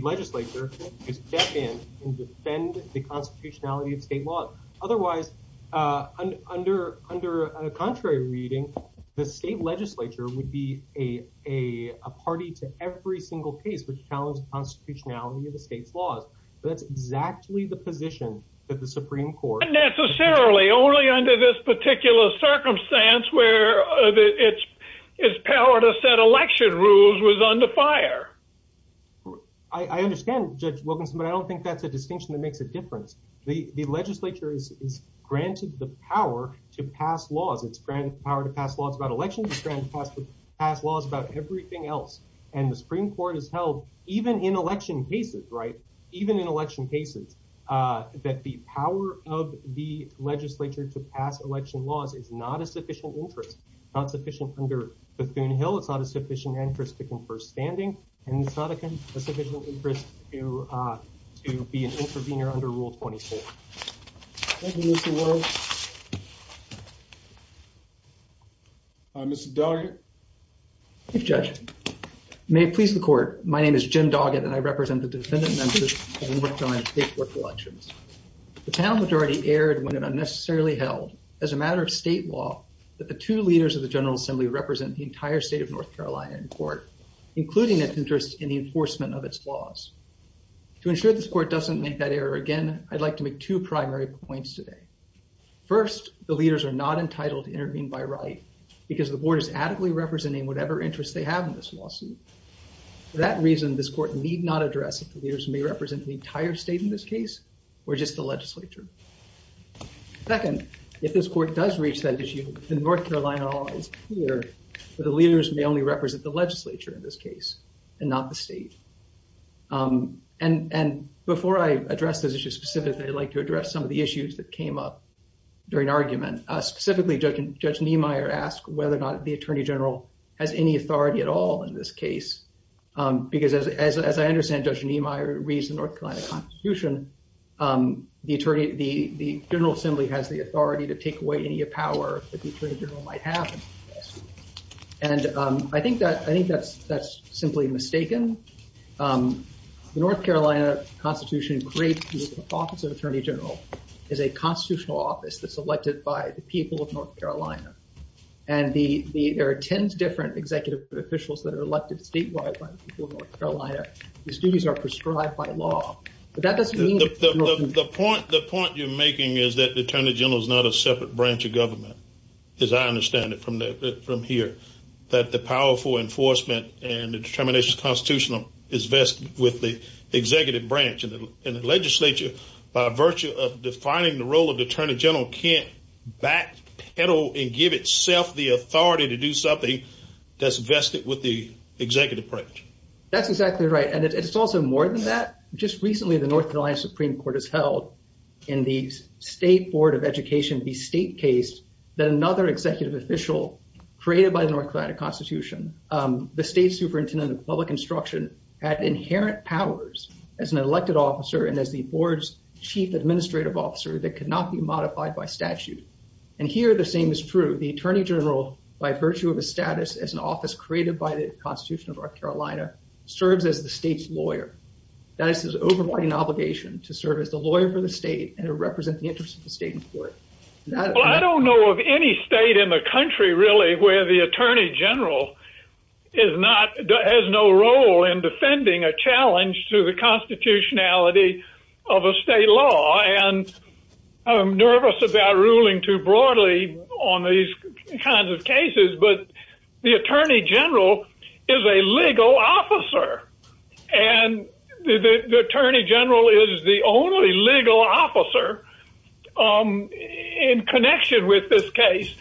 legislature to step in and defend the constitutionality of state laws. Otherwise, under a contrary reading, the state legislature would be a party to every single case which challenged the constitutionality of the state laws. That's exactly the position that the Supreme Court... Not necessarily. Only under this particular circumstance where its power to set election rules was under fire. I understand, Judge Wilkinson, but I don't think that's a distinction that makes a difference. The legislature is granted the power to pass laws. It's granted the power to pass laws about elections. It's granted the power to pass laws about everything else. And the Supreme Court has held, even in election cases, right? Even in election cases, that the power of the legislature to pass election laws is not a sufficient interest. Not sufficient under Bethune Hill. It's not a sufficient interest to confer standing. And it's not a sufficient interest to be an intervener under Rule 24. Thank you, Mr. Wells. Mr. Doggett? Thank you, Judge. May it please the Court, my name is Jim Doggett, and I represent the defendant members who have worked on state court elections. The town majority erred when it unnecessarily held, as a matter of state law, that the two leaders of the General Assembly represent the entire state of North Carolina in court, including its interest in the enforcement of its laws. To ensure this Court doesn't make that error again, I'd like to make two primary points today. First, the leaders are not entitled to intervene by right, because the Board is adequately representing whatever interest they have in this lawsuit. For that reason, this Court need not address if the leaders may represent the entire state in this case, or just the legislature. Second, if this Court does reach that issue, the North Carolina law is clear that the leaders may only represent the legislature in this case, and not the state. And before I address this issue specifically, I'd like to address some of the issues that came up during argument. Specifically, Judge Niemeyer asked whether or not the Attorney General has any authority at all in this case. Because, as I understand, Judge Niemeyer reads the North Carolina Constitution, the General Assembly has the authority to take away any power that the Attorney General might have. And I think that's simply mistaken. The North Carolina Constitution creates the Office of Attorney General as a constitutional office that's elected by the people of North Carolina. And there are ten different executive officials that are elected statewide by the people of North Carolina. The statutes are prescribed by law. The point you're making is that the Attorney General is not a separate branch of government, as I understand it from here. That the power for enforcement and the determination of the Constitution is vested with the executive branch. And the legislature, by virtue of defining the role of the Attorney General, can't backpedal and give itself the authority to do something that's vested with the executive branch. That's exactly right. And it's also more than that. Just recently, the North Carolina Supreme Court has held in the State Board of Education, the state case, that another executive official created by the North Carolina Constitution, the state superintendent of public instruction, had inherent powers as an elected officer and as the board's chief administrative officer that could not be modified by statute. And here, the same is true. The Attorney General, by virtue of his status as an office created by the Constitution of North Carolina, serves as the state's lawyer. That is to say, overriding obligation to serve as the lawyer for the state and to represent the interests of the state in court. I don't know of any state in the country, really, where the Attorney General has no role in defending a challenge to the constitutionality of a state law. And I'm nervous about ruling too broadly on these kinds of cases, but the Attorney General is a legal officer. And the Attorney General is the only legal officer in connection with this case.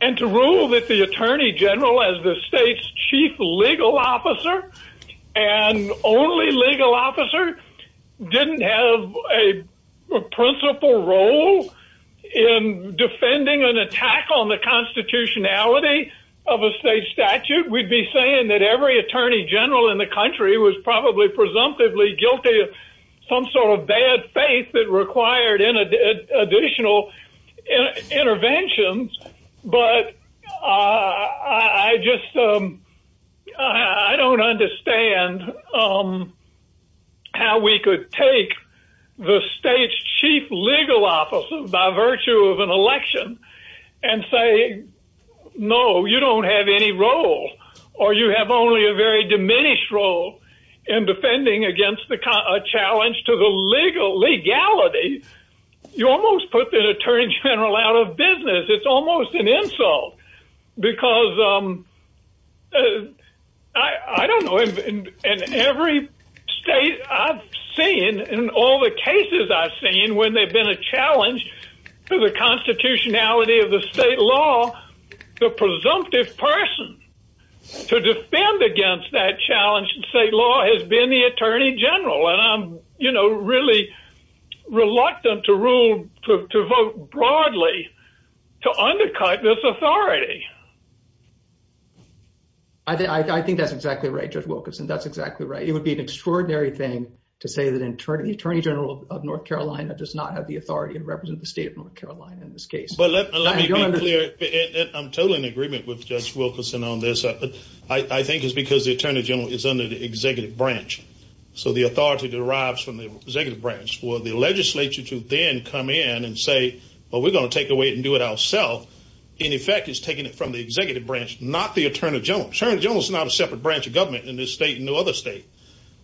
And to rule that the Attorney General as the state's chief legal officer and only legal officer didn't have a principal role in defending an attack on the constitutionality of a state statute, we'd be saying that every Attorney General in the country was probably presumptively guilty of some sort of bad faith that required additional interventions. But I don't understand how we could take the state's chief legal officer, by virtue of an election, and say, no, you don't have any role. Or you have only a very diminished role in defending against a challenge to the legality. You almost put the Attorney General out of business. It's almost an insult. Because, I don't know, in every state I've seen, in all the cases I've seen, when there's been a challenge to the constitutionality of the state law, the presumptive person to defend against that challenge in state law has been the Attorney General. And I'm, you know, really reluctant to vote broadly to undercut this authority. I think that's exactly right, Judge Wilkinson. That's exactly right. It would be an extraordinary thing to say that the Attorney General of North Carolina does not have the authority to represent the state of North Carolina in this case. But let me be clear. I'm totally in agreement with Judge Wilkinson on this. I think it's because the Attorney General is under the executive branch. So the authority derives from the executive branch for the legislature to then come in and say, well, we're going to take away and do it ourselves. In effect, it's taking it from the executive branch, not the Attorney General. The Attorney General is not a separate branch of government in this state and no other state.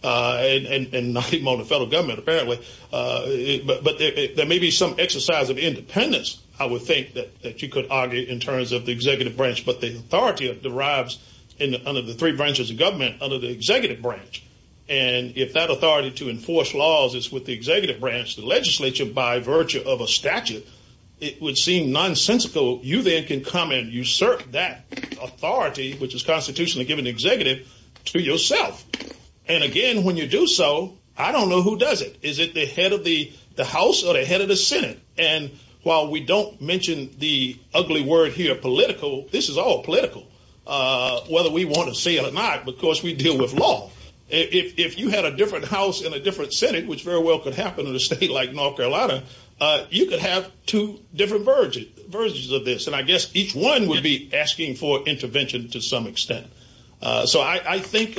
And not even on the federal government, apparently. But there may be some exercise of independence, I would think, that you could argue in terms of the executive branch. But the authority derives under the three branches of government under the executive branch. And if that authority to enforce laws is with the executive branch, the legislature, by virtue of a statute, it would seem nonsensical. You then can come and usurp that authority, which is constitutionally given to the executive, to yourself. And again, when you do so, I don't know who does it. Is it the head of the House or the head of the Senate? And while we don't mention the ugly word here, political, this is all political, whether we want to say it or not, because we deal with law. If you had a different House and a different Senate, which very well could happen in a state like North Carolina, you could have two different versions of this. And I guess each one would be asking for intervention to some extent. So I think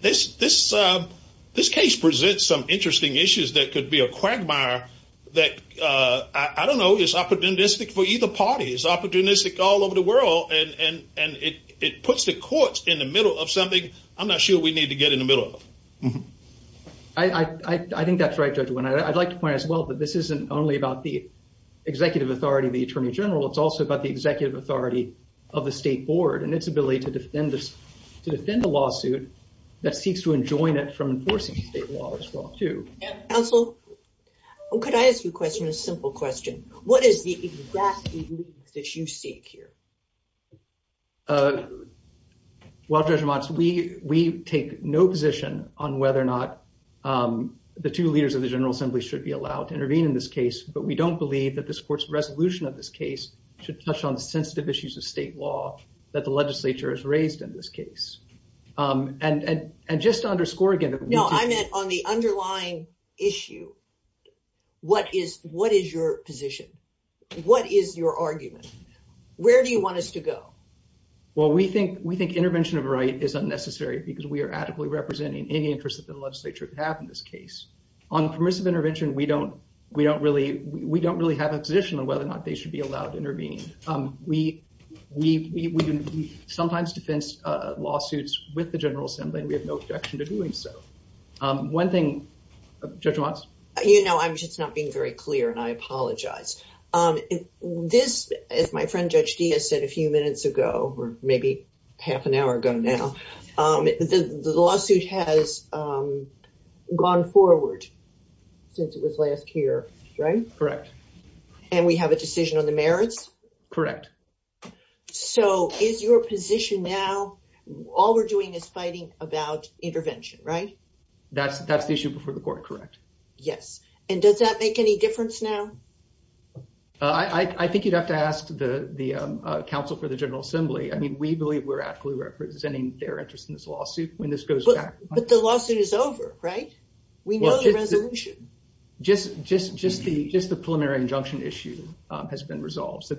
this case presents some interesting issues that could be a quagmire that, I don't know, is opportunistic for either party. It's opportunistic all over the world, and it puts the courts in the middle of something I'm not sure we need to get in the middle of. I think that's right, Judge Winard. I'd like to point out as well that this isn't only about the executive authority of the Attorney General. It's also about the executive authority of the State Board and its ability to defend a lawsuit that seeks to enjoin it from enforcing state law as well, too. Counsel, could I ask you a question, a simple question? What is the exact issue that you seek here? Well, Judge Watts, we take no position on whether or not the two leaders of the General Assembly should be allowed to intervene in this case. But we don't believe that this court's resolution of this case should touch on sensitive issues of state law that the legislature has raised in this case. And just to underscore again... No, I meant on the underlying issue, what is your position? What is your argument? Where do you want us to go? Well, we think intervention of right is unnecessary because we are adequately representing any interest that the legislature would have in this case. On permissive intervention, we don't really have a position on whether or not they should be allowed to intervene. We sometimes defend lawsuits with the General Assembly. We have no objection to doing so. One thing... Judge Watts? You know, I'm just not being very clear, and I apologize. This, as my friend Judge Diaz said a few minutes ago, or maybe half an hour ago now, the lawsuit has gone forward since it was last here, right? Correct. And we have a decision on the merits? Correct. So is your position now, all we're doing is fighting about intervention, right? That issue before the court, correct. Yes. And does that make any difference now? I think you'd have to ask the Council for the General Assembly. I mean, we believe we're adequately representing their interest in this lawsuit when this goes back. But the lawsuit is over, right? We know the resolution. Just the preliminary injunction issue has been resolved. So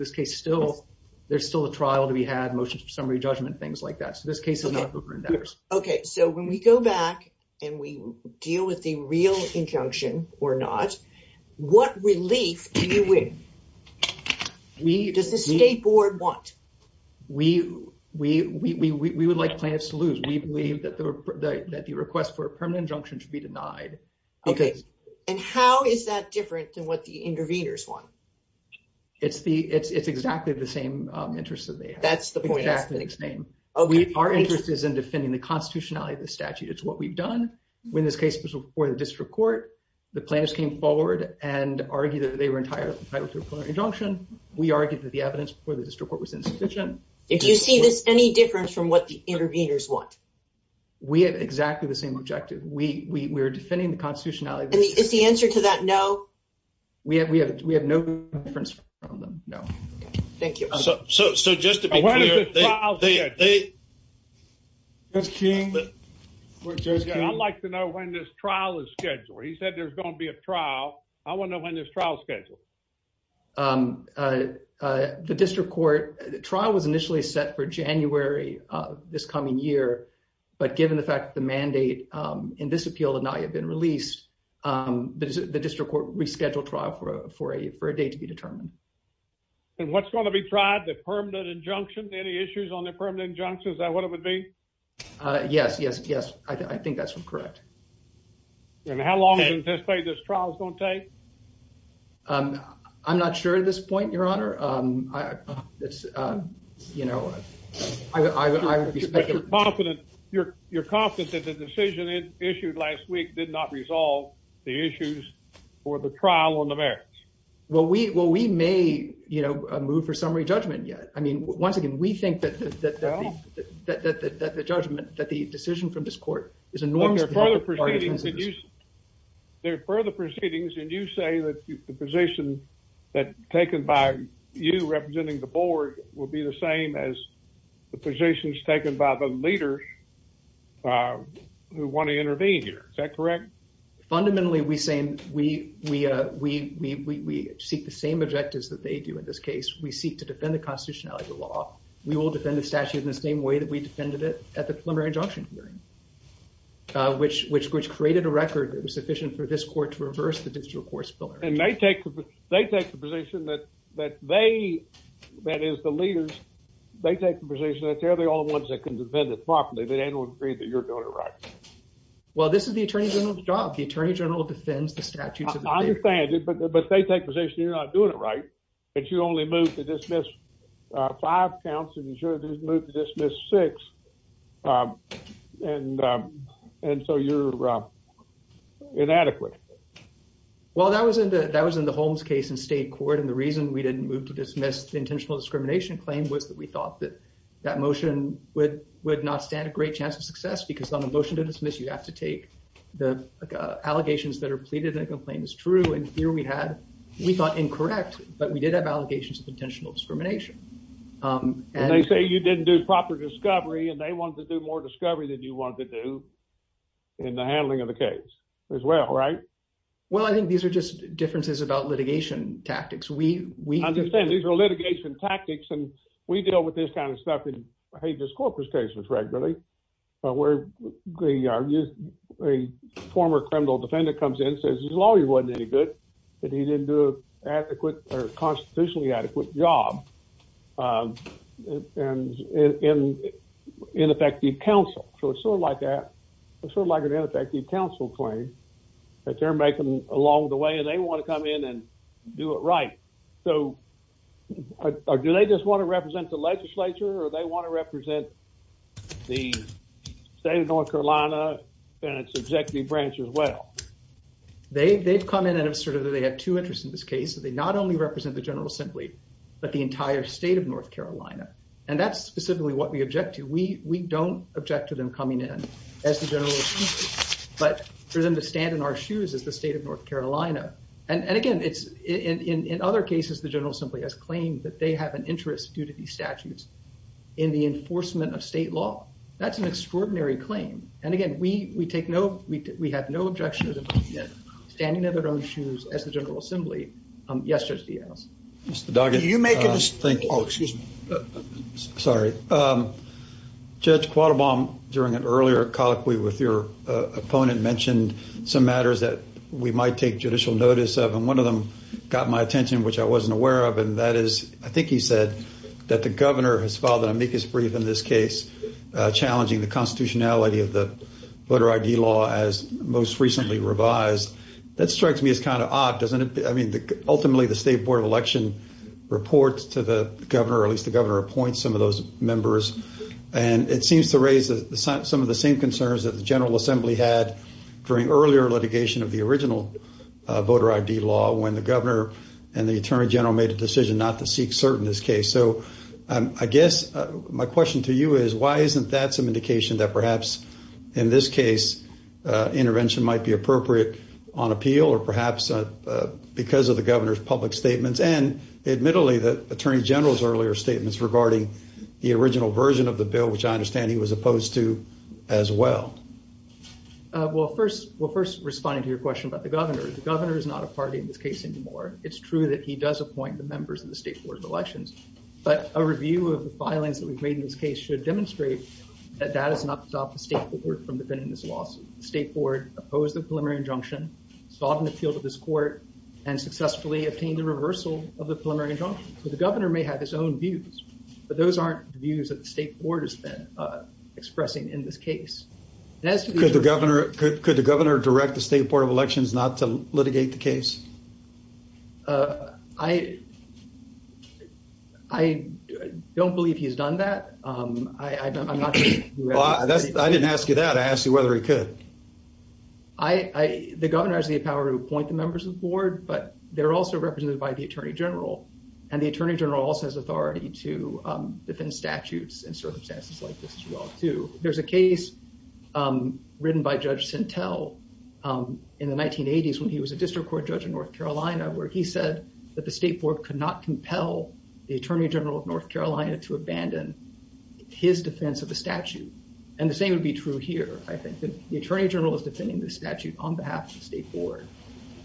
there's still a trial to be had, motions for summary judgment, things like that. So this case is not over. Okay, so when we go back and we deal with the real injunction or not, what relief do you wish? Does the State Board want? We would like plaintiffs to lose. We believe that the request for a permanent injunction should be denied. Okay. And how is that different than what the interveners want? It's exactly the same interest that they have. That's the point. It's exactly the same. Our interest is in defending the constitutionality of the statute. It's what we've done when this case was before the district court. The plaintiffs came forward and argued that they were entitled to a preliminary injunction. We argued that the evidence before the district court was indecision. Do you see any difference from what the interveners want? We have exactly the same objective. We are defending the constitutionality of the statute. And is the answer to that no? We have no difference from them, no. Thank you. When is the trial scheduled? I'd like to know when this trial is scheduled. He said there's going to be a trial. I want to know when this trial is scheduled. The district court trial was initially set for January of this coming year, but given the fact that the mandate in this appeal had not yet been released, And what's going to be tried? The permanent injunction? Any issues on the permanent injunction? Is that what it would be? Yes. Yes. Yes. I think that's correct. And how long is this trial going to take? I'm not sure at this point, Your Honor. You're confident that the decision issued last week did not resolve the issues for the trial on the merits? Well, we may, you know, move for summary judgment yet. I mean, once again, we think that the judgment, that the decision from this court is enormous. There are further proceedings, and you say that the position that's taken by you representing the board will be the same as the positions taken by the leaders who want to intervene here. Is that correct? Fundamentally, we seek the same objectives that they do in this case. We seek to defend the constitutionality of the law. We will defend the statute in the same way that we defended it at the preliminary injunction hearing, which created a record that was sufficient for this court to reverse the judicial course of the law. And they take the position that they, that is, the leaders, they take the position that they're the only ones that can defend it properly. They don't agree that you're doing it right. Well, this is the attorney general's job. The attorney general defends the statute. I defend it, but they take the position you're not doing it right, that you only moved to dismiss five counts and the jury didn't move to dismiss six, and so you're inadequate. Well, that was in the Holmes case in state court, and the reason we didn't move to dismiss the intentional discrimination claim was that we thought that motion would not stand a great chance of success because on a motion to dismiss, you have to take the allegations that are pleaded and the complaint is true, and here we had, we thought, incorrect, but we did have allegations of intentional discrimination. And they say you didn't do proper discovery, and they wanted to do more discovery than you wanted to do in the handling of the case as well, right? Well, I think these are just differences about litigation tactics. I understand. These are litigation tactics, and we deal with this kind of stuff in Hages Corpus cases regularly, where they argue a former criminal defendant comes in and says his lawyer wasn't any good and he didn't do a constitutionally adequate job in effective counsel. So it's sort of like that. It's sort of like an ineffective counsel claim that they're making along the way, and they want to come in and do it right. So do they just want to represent the legislature, or do they want to represent the state of North Carolina and its executive branch as well? They've come in and sort of they have two interests in this case. They not only represent the general assembly, but the entire state of North Carolina, and that's specifically what we object to. We don't object to them coming in as the general assembly, but for them to stand in our shoes as the state of North Carolina. And, again, in other cases, the general assembly has claimed that they have an interest due to these statutes in the enforcement of state law. That's an extraordinary claim. And, again, we have no objection to them standing in their own shoes as the general assembly. Yes, Judge DeAnna. Do you make it? Oh, excuse me. Sorry. Judge Quattlebaum, during an earlier colloquy with your opponent, mentioned some matters that we might take judicial notice of, and one of them got my attention, which I wasn't aware of, and that is, I think he said that the governor has filed an amicus brief in this case challenging the constitutionality of the voter I.D. law as most recently revised. That strikes me as kind of odd. Ultimately, the state board of election reports to the governor, or at least the governor appoints some of those members, and it seems to raise some of the same concerns that the general assembly had during earlier litigation of the original voter I.D. law when the governor and the attorney general made the decision not to seek cert in this case. So I guess my question to you is, why isn't that some indication that perhaps, in this case, intervention might be appropriate on appeal or perhaps because of the governor's public statements and, admittedly, the attorney general's earlier statements regarding the original version of the bill, which I understand he was opposed to as well. Well, first, we'll first respond to your question about the governor. The governor is not a party in this case anymore. It's true that he does appoint the members of the state board of elections, but a review of the filings that we've made in this case should demonstrate that that has not stopped the state board from defending this lawsuit. The state board opposed the preliminary injunction, sought an appeal to this court, and successfully obtained a reversal of the preliminary injunction. So the governor may have his own views, but those aren't views that the state board has been expressing in this case. Could the governor direct the state board of elections not to litigate the case? I don't believe he has done that. I'm not sure. I didn't ask you that. I asked you whether he could. The governor has the power to appoint the members of the board, but they're also represented by the attorney general, and the attorney general also has authority to defend statutes and circumstances like this as well, too. There's a case written by Judge Sintel in the 1980s when he was a district court judge in North Carolina where he said that the state board could not compel the attorney general of North Carolina to abandon his defense of a statute. And the same would be true here, I think. The attorney general is defending the statute on behalf of the state board,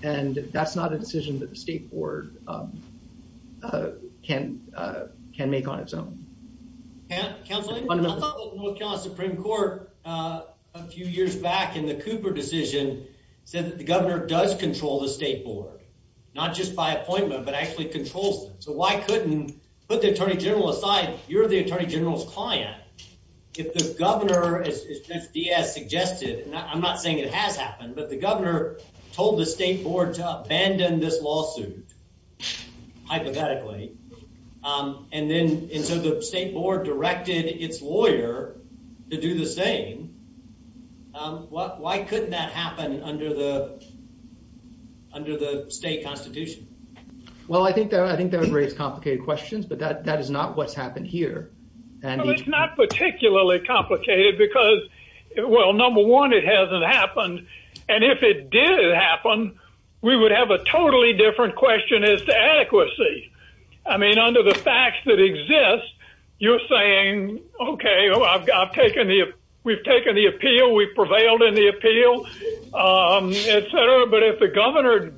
and that's not a decision that the state board can make on its own. Counselor, I thought that the North Carolina Supreme Court, a few years back in the Cooper decision, said that the governor does control the state board, not just by appointment, but actually controls them. So why couldn't, put the attorney general aside, you're the attorney general's client. If the governor, as Judge Diaz suggested, and I'm not saying it has happened, but the governor told the state board to abandon this lawsuit, hypothetically, and then the state board directed its lawyer to do the same, why couldn't that happen under the state constitution? Well, I think that would raise complicated questions, but that is not what's happened here. Well, it's not particularly complicated because, well, number one, it hasn't happened, and if it did happen, we would have a totally different question as to adequacy. I mean, under the facts that exist, you're saying, okay, we've taken the appeal, we've prevailed in the appeal, et cetera, but if the governor,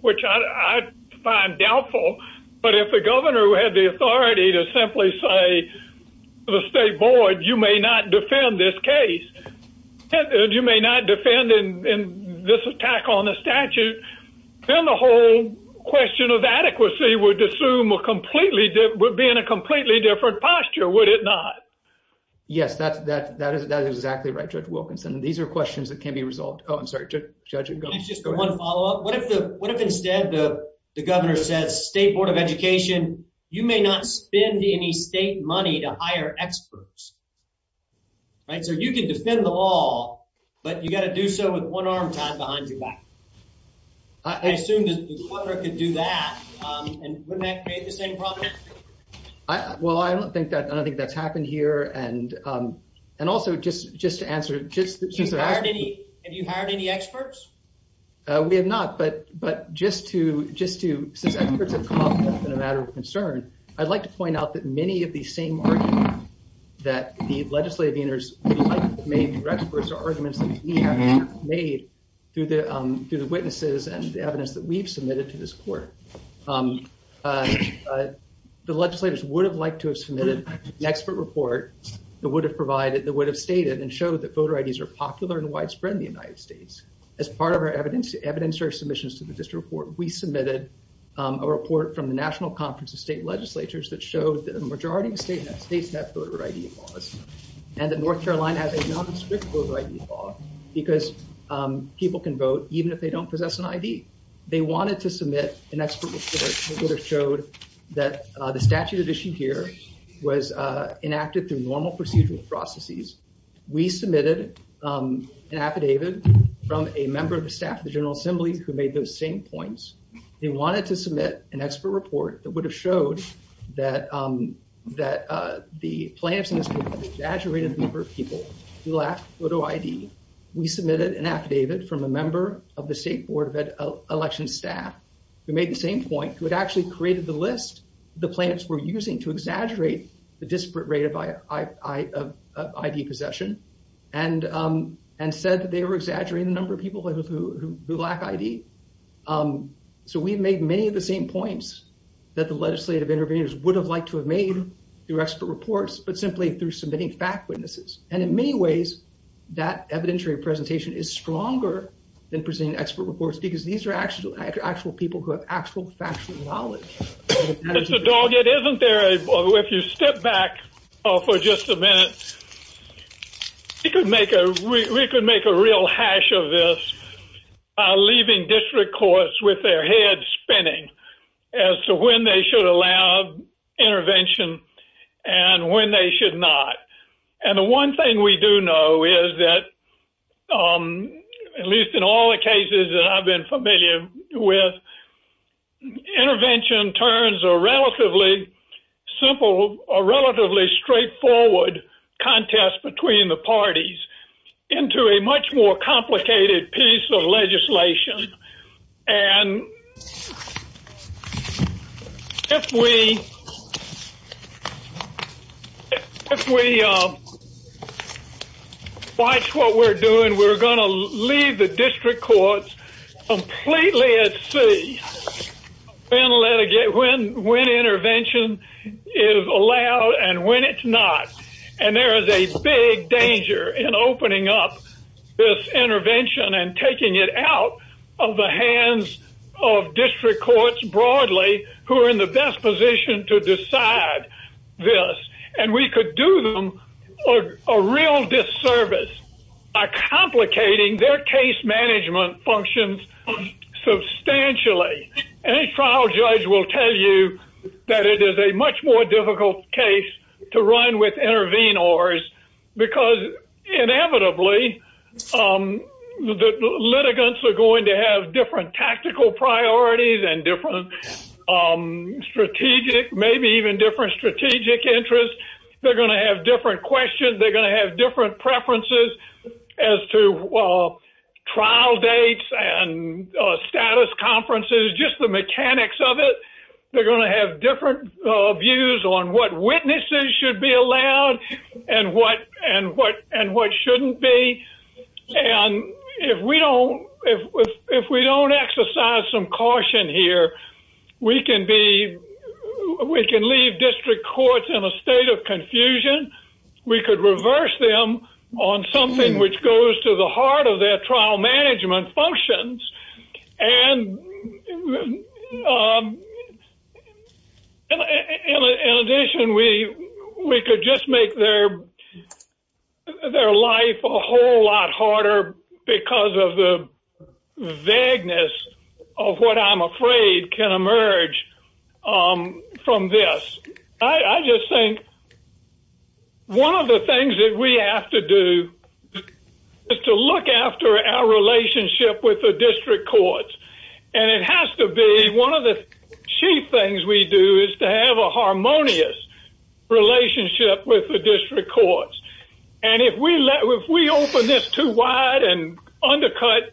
which I find doubtful, but if the governor had the authority to simply say to the state board, you may not defend this case, you may not defend this attack on the statute, then the whole question of adequacy would assume a completely different, would be in a completely different posture, would it not? Yes, that is exactly right, Judge Wilkinson. These are questions that can be resolved. Oh, I'm sorry, Judge, go ahead. Just one follow-up. What if instead the governor says, state board of education, you may not spend any state money to hire experts? So you can defend them all, but you've got to do so with one arm tied behind your back. I assume that the court could do that, and wouldn't that create the same problem? Well, I don't think that's happened here, and also just to answer. Have you hired any experts? We have not, but just to, just as a matter of concern, I'd like to point out that many of these same arguments that the legislative leaders would have liked to have made for experts are arguments that we have made through the witnesses and the evidence that we've submitted to this court. The legislators would have liked to have submitted an expert report that would have provided, that would have stated and showed that voter IDs are popular and widespread in the United States. As part of our evidence to evidence or submissions to the district court, we submitted a report from the national conference of state legislatures that shows that the majority of state and states have voter ID laws and that North Carolina has a non-restricted voter ID law because people can vote even if they don't possess an ID. They wanted to submit an expert report that would have showed that the statute of issue here was enacted through normal procedural processes. We submitted an affidavit from a member of the staff of the general assembly who made those same points. They wanted to submit an expert report that would have showed that, that the plans exaggerated the number of people who lacked voter ID. We submitted an affidavit from a member of the state board of election staff who made the same point, who had actually created the list the plans were using to exaggerate the disparate rate of ID possession, and said that they were exaggerating the number of people who lack ID. So we've made many of the same points that the legislative interveners would have liked to have made through expert reports, but simply through submitting fact witnesses. And in many ways, that evidentiary presentation is stronger than presenting expert reports because these are actual people who have actual factual knowledge. Mr. Doggett, isn't there, if you step back for just a minute, we could make a real hash of this by leaving district courts with their heads spinning as to when they should allow intervention and when they should not. And the one thing we do know is that, at least in all the cases that I've been familiar with, intervention turns a relatively simple or relatively straightforward contest between the parties into a much more complicated piece of legislation. And if we watch what we're doing, we're going to leave the district courts completely at sea when we intervention is allowed and when it's not. And there is a big danger in opening up this intervention and taking it out of the hands of district courts broadly who are in the best position to decide this. And we could do them a real disservice by complicating their case management functions substantially. Any trial judge will tell you that it is a much more difficult case to run with intervenors because inevitably the litigants are going to have different tactical priorities and different strategic, maybe even different strategic interests. They're going to have different questions. They're going to have different preferences as to trial dates and status conferences, just the mechanics of it. They're going to have different views on what witnesses should be allowed and what shouldn't be. And if we don't exercise some caution here, we can leave district courts in a state of confusion. We could reverse them on something which goes to the heart of their trial management functions. And in addition, we could just make their life a whole lot harder because of the vagueness of what I'm afraid can emerge from this. I just think one of the things that we have to do is to look after our relationship with the district courts. And it has to be one of the chief things we do is to have a harmonious relationship with the district courts. And if we open this too wide and undercut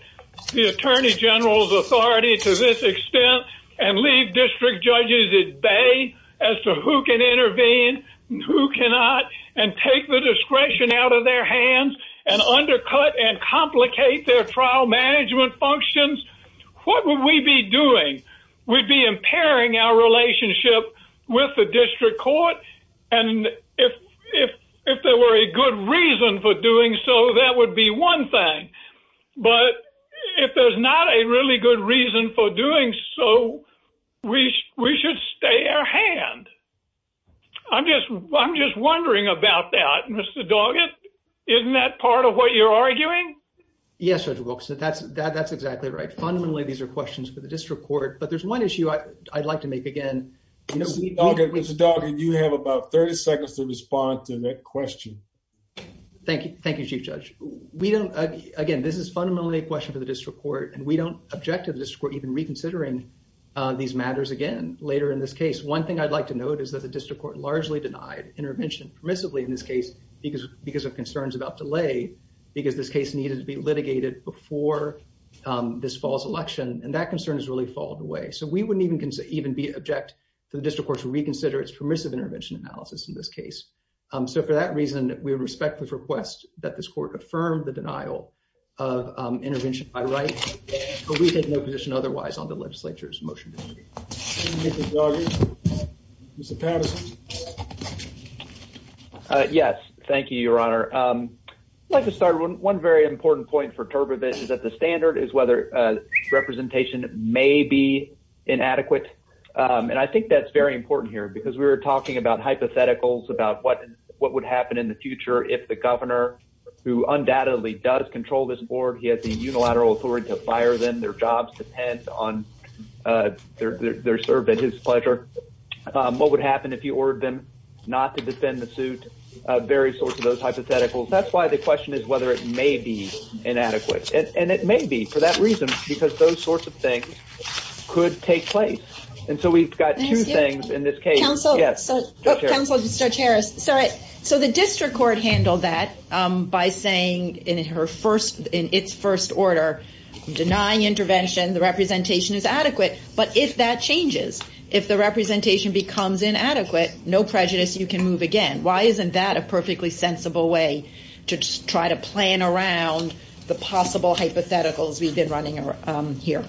the attorney general's authority to this extent and leave district judges at bay as to who can intervene and who cannot, and take the discretion out of their hands and undercut and complicate their trial management functions, what would we be doing? We'd be impairing our relationship with the district court. And if there were a good reason for doing so, that would be one thing. But if there's not a really good reason for doing so, we should stay our hand. I'm just wondering about that, Mr. Doggett. Isn't that part of what you're arguing? Yes, Judge Wilkson. That's exactly right. Fundamentally, these are questions for the district court. But there's one issue I'd like to make again. Mr. Doggett, you have about 30 seconds to respond to that question. Thank you, Chief Judge. Again, this is fundamentally a question for the district court. And we don't object to the district court even reconsidering these matters again later in this case. One thing I'd like to note is that the district court largely denied intervention permissively in this case because of concerns about delay because this case needed to be litigated before this fall's election. And that concern has really fallen away. So we wouldn't even object to the district court to reconsider its permissive intervention analysis in this case. So for that reason, we respect this request that this court affirm the denial of intervention by right. But we have no position otherwise on the legislature's motion. Mr. Doggett? Mr. Patterson? Yes. Thank you, Your Honor. I'd like to start with one very important point for TurboVid is that the standard is whether representation may be inadequate. And I think that's very important here because we were talking about what would happen in the future if the governor, who undoubtedly does control this board, he has the unilateral authority to fire them, their jobs depend on their servant, his pleasure. What would happen if you ordered them not to defend the suit, various sorts of those hypotheticals. That's why the question is whether it may be inadequate. And it may be for that reason because those sorts of things could take place. And so we've got two things in this case. So the district court handled that by saying in its first order, denying intervention, the representation is adequate. But if that changes, if the representation becomes inadequate, no prejudice, you can move again. Why isn't that a perfectly sensible way to try to plan around the possible hypotheticals we've been running here?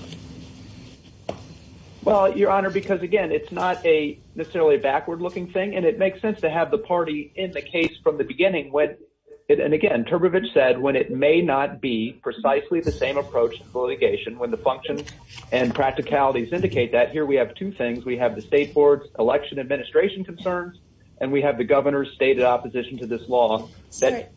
Well, Your Honor, because again, it's not a necessarily backward looking thing and it makes sense to have the party in the case from the beginning. And again, TurboVid said when it may not be precisely the same approach to litigation when the functions and practicalities indicate that. Here we have two things. We have the state board's election administration concerns and we have the governor's stated opposition to this law.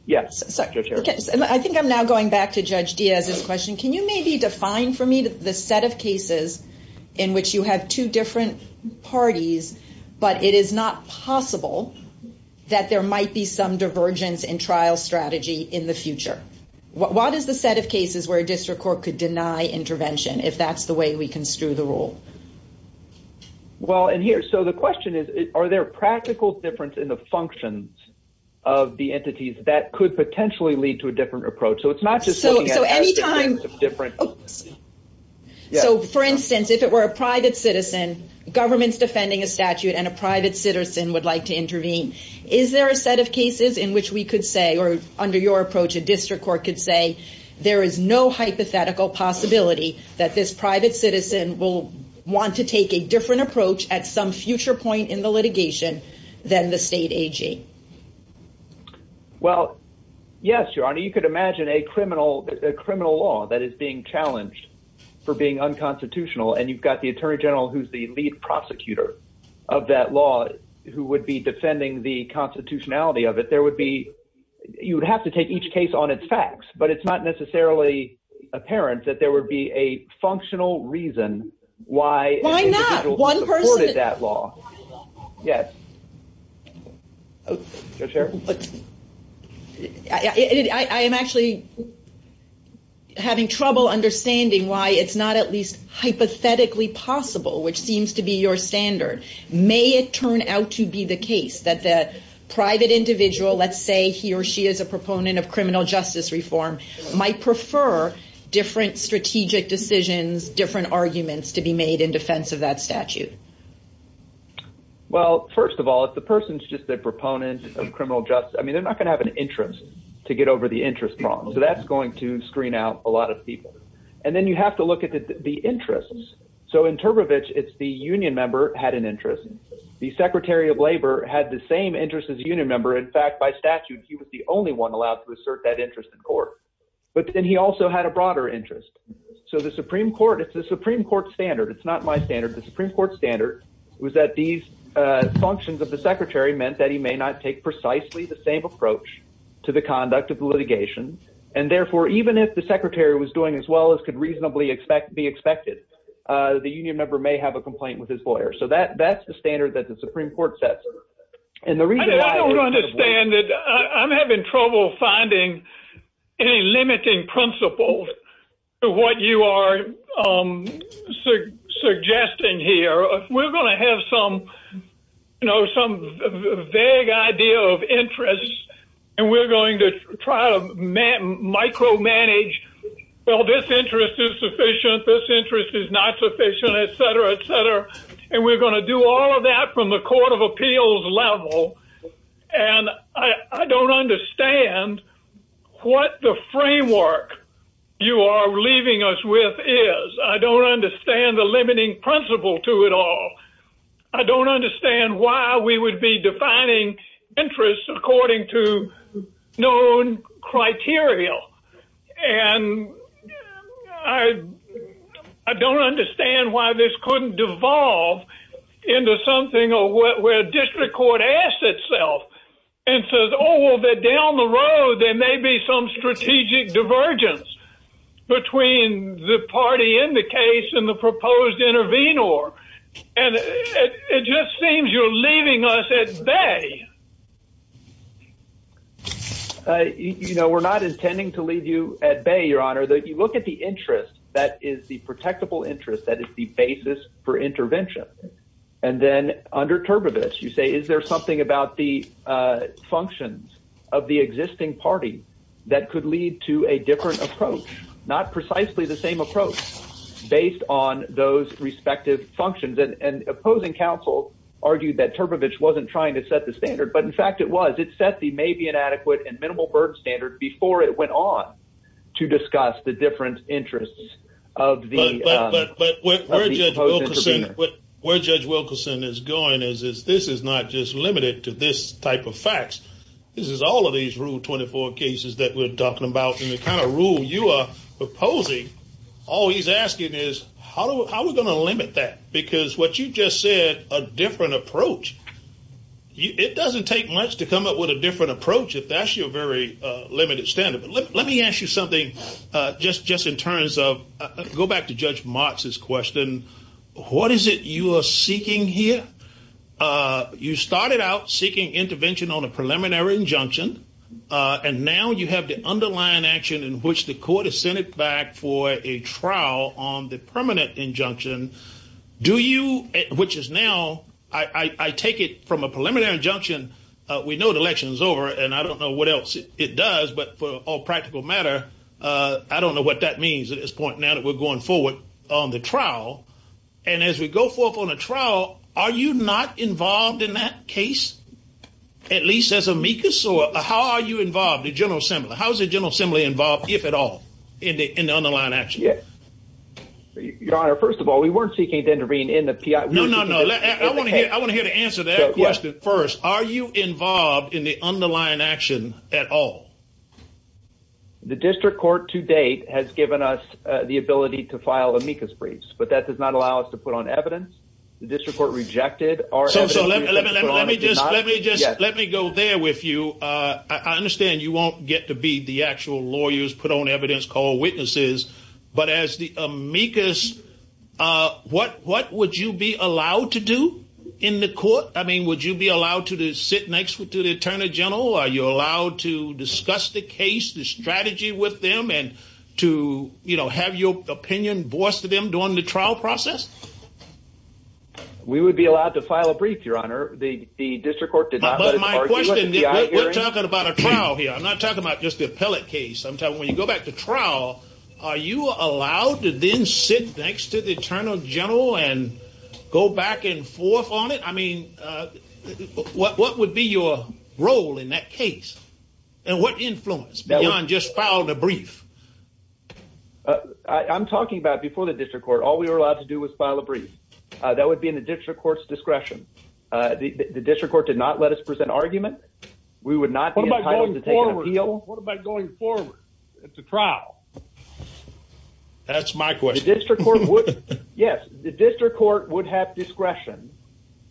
Yes, Secretary. I think I'm now going back to Judge Diaz's question. Can you maybe define for me the set of cases in which you have two different parties, but it is not possible that there might be some divergence in trial strategy in the future? What is the set of cases where a district court could deny intervention if that's the way we construe the rule? Well, and here, so the question is, are there practical difference in the functions of the entities that could potentially lead to a different approach? So, for instance, if it were a private citizen, government's defending a statute and a private citizen would like to intervene, is there a set of cases in which we could say, or under your approach, a district court could say, there is no hypothetical possibility that this private citizen will want to take a different approach at some future point in the litigation than the state AG? Well, yes, Your Honor. Well, you could imagine a criminal law that is being challenged for being unconstitutional, and you've got the Attorney General who's the lead prosecutor of that law who would be defending the constitutionality of it. There would be, you would have to take each case on its facts, but it's not necessarily apparent that there would be a functional reason why one person supported that law. Yes. I am actually having trouble understanding why it's not at least hypothetically possible, which seems to be your standard. May it turn out to be the case that the private individual, let's say he or she is a proponent of criminal justice reform, might prefer different strategic decisions, different arguments to be made in defense of that statute? Well, first of all, if the person's just a proponent of criminal justice, I mean, they're not going to have an interest to get over the interest problem. So that's going to screen out a lot of people. And then you have to look at the interests. So in Turbovich, it's the union member had an interest. The Secretary of Labor had the same interest as a union member. In fact, by statute, he was the only one allowed to assert that interest in court. But then he also had a broader interest. So the Supreme Court, it's the Supreme Court standard. It's not my standard. The Supreme Court standard was that these functions of the secretary meant that he may not take precisely the same approach to the conduct of the litigation. And therefore, even if the secretary was doing as well as could reasonably be expected, the union member may have a complaint with his lawyer. So that's the standard that the Supreme Court sets. I don't understand it. I'm having trouble finding any limiting principles of what you are suggesting here. We're going to have some vague idea of interest. And we're going to try to micromanage. Well, this interest is sufficient. This interest is not sufficient, et cetera, et cetera. And we're going to do all of that from the court of appeals level. And I don't understand what the framework you are leaving us with is. I don't understand the limiting principle to it all. I don't understand why we would be defining interest according to known criteria. And I don't understand why this couldn't devolve into something where district court asks itself and says, oh, well, they're down the road. There may be some strategic divergence between the party in the case and the proposed intervenor. And it just seems you're leaving us at bay. You know, we're not intending to leave you at bay, your honor. You look at the interest that is the protectable interest, that is the basis for intervention. And then under Turbovich, you say, is there something about the functions of the existing party that could lead to a different approach? Not precisely the same approach based on those respective functions. And opposing counsel argued that Turbovich wasn't trying to set the standard, but in fact it was. It set the maybe inadequate and minimal burden standard before it went on to discuss the different interests of the proposed intervenor. Where Judge Wilkerson is going is this is not just limited to this type of facts. This is all of these Rule 24 cases that we're talking about. And the kind of rule you are proposing, all he's asking is, how are we going to limit that? Because what you just said, a different approach. It doesn't take much to come up with a different approach if that's your very limited standard. Let me ask you something just in terms of, go back to Judge Marks' question. What is it you are seeking here? You started out seeking intervention on a preliminary injunction. And now you have the underlying action in which the court has sent it back for a trial on the permanent injunction. Do you, which is now, I take it from a preliminary injunction, we know the election is over and I don't know what else it does, but for all practical matter, I don't know what that means at this point now that we're going forward on the trial. And as we go forward on the trial, are you not involved in that case? At least as amicus? Or how are you involved, the General Assembly? How is the General Assembly involved, if at all, in the underlying action? Yes. Your Honor, first of all, we weren't seeking to intervene in the PI. No, no, no. I want to hear the answer to that question first. Are you involved in the underlying action at all? The district court to date has given us the ability to file amicus briefs. But that does not allow us to put on evidence. The district court rejected our evidence. Let me go there with you. I understand you won't get to be the actual lawyers put on evidence called witnesses. But as the amicus, what would you be allowed to do in the court? I mean, would you be allowed to sit next to the Attorney General? Are you allowed to discuss the case, the strategy with them, and to have your opinion voiced to them during the trial process? We would be allowed to file a brief, Your Honor. The district court did not let us argue with the PI hearing. But my question is, we're talking about a trial here. I'm not talking about just the appellate case. I'm talking, when you go back to trial, are you allowed to then sit next to the Attorney General and go back and forth on it? I mean, what would be your role in that case? And what influence beyond just filing a brief? I'm talking about before the district court, all we were allowed to do was file a brief. That would be in the district court's discretion. The district court did not let us present arguments. We would not be entitled to take an appeal. What about going forward? It's a trial. That's my question. Yes, the district court would have discretion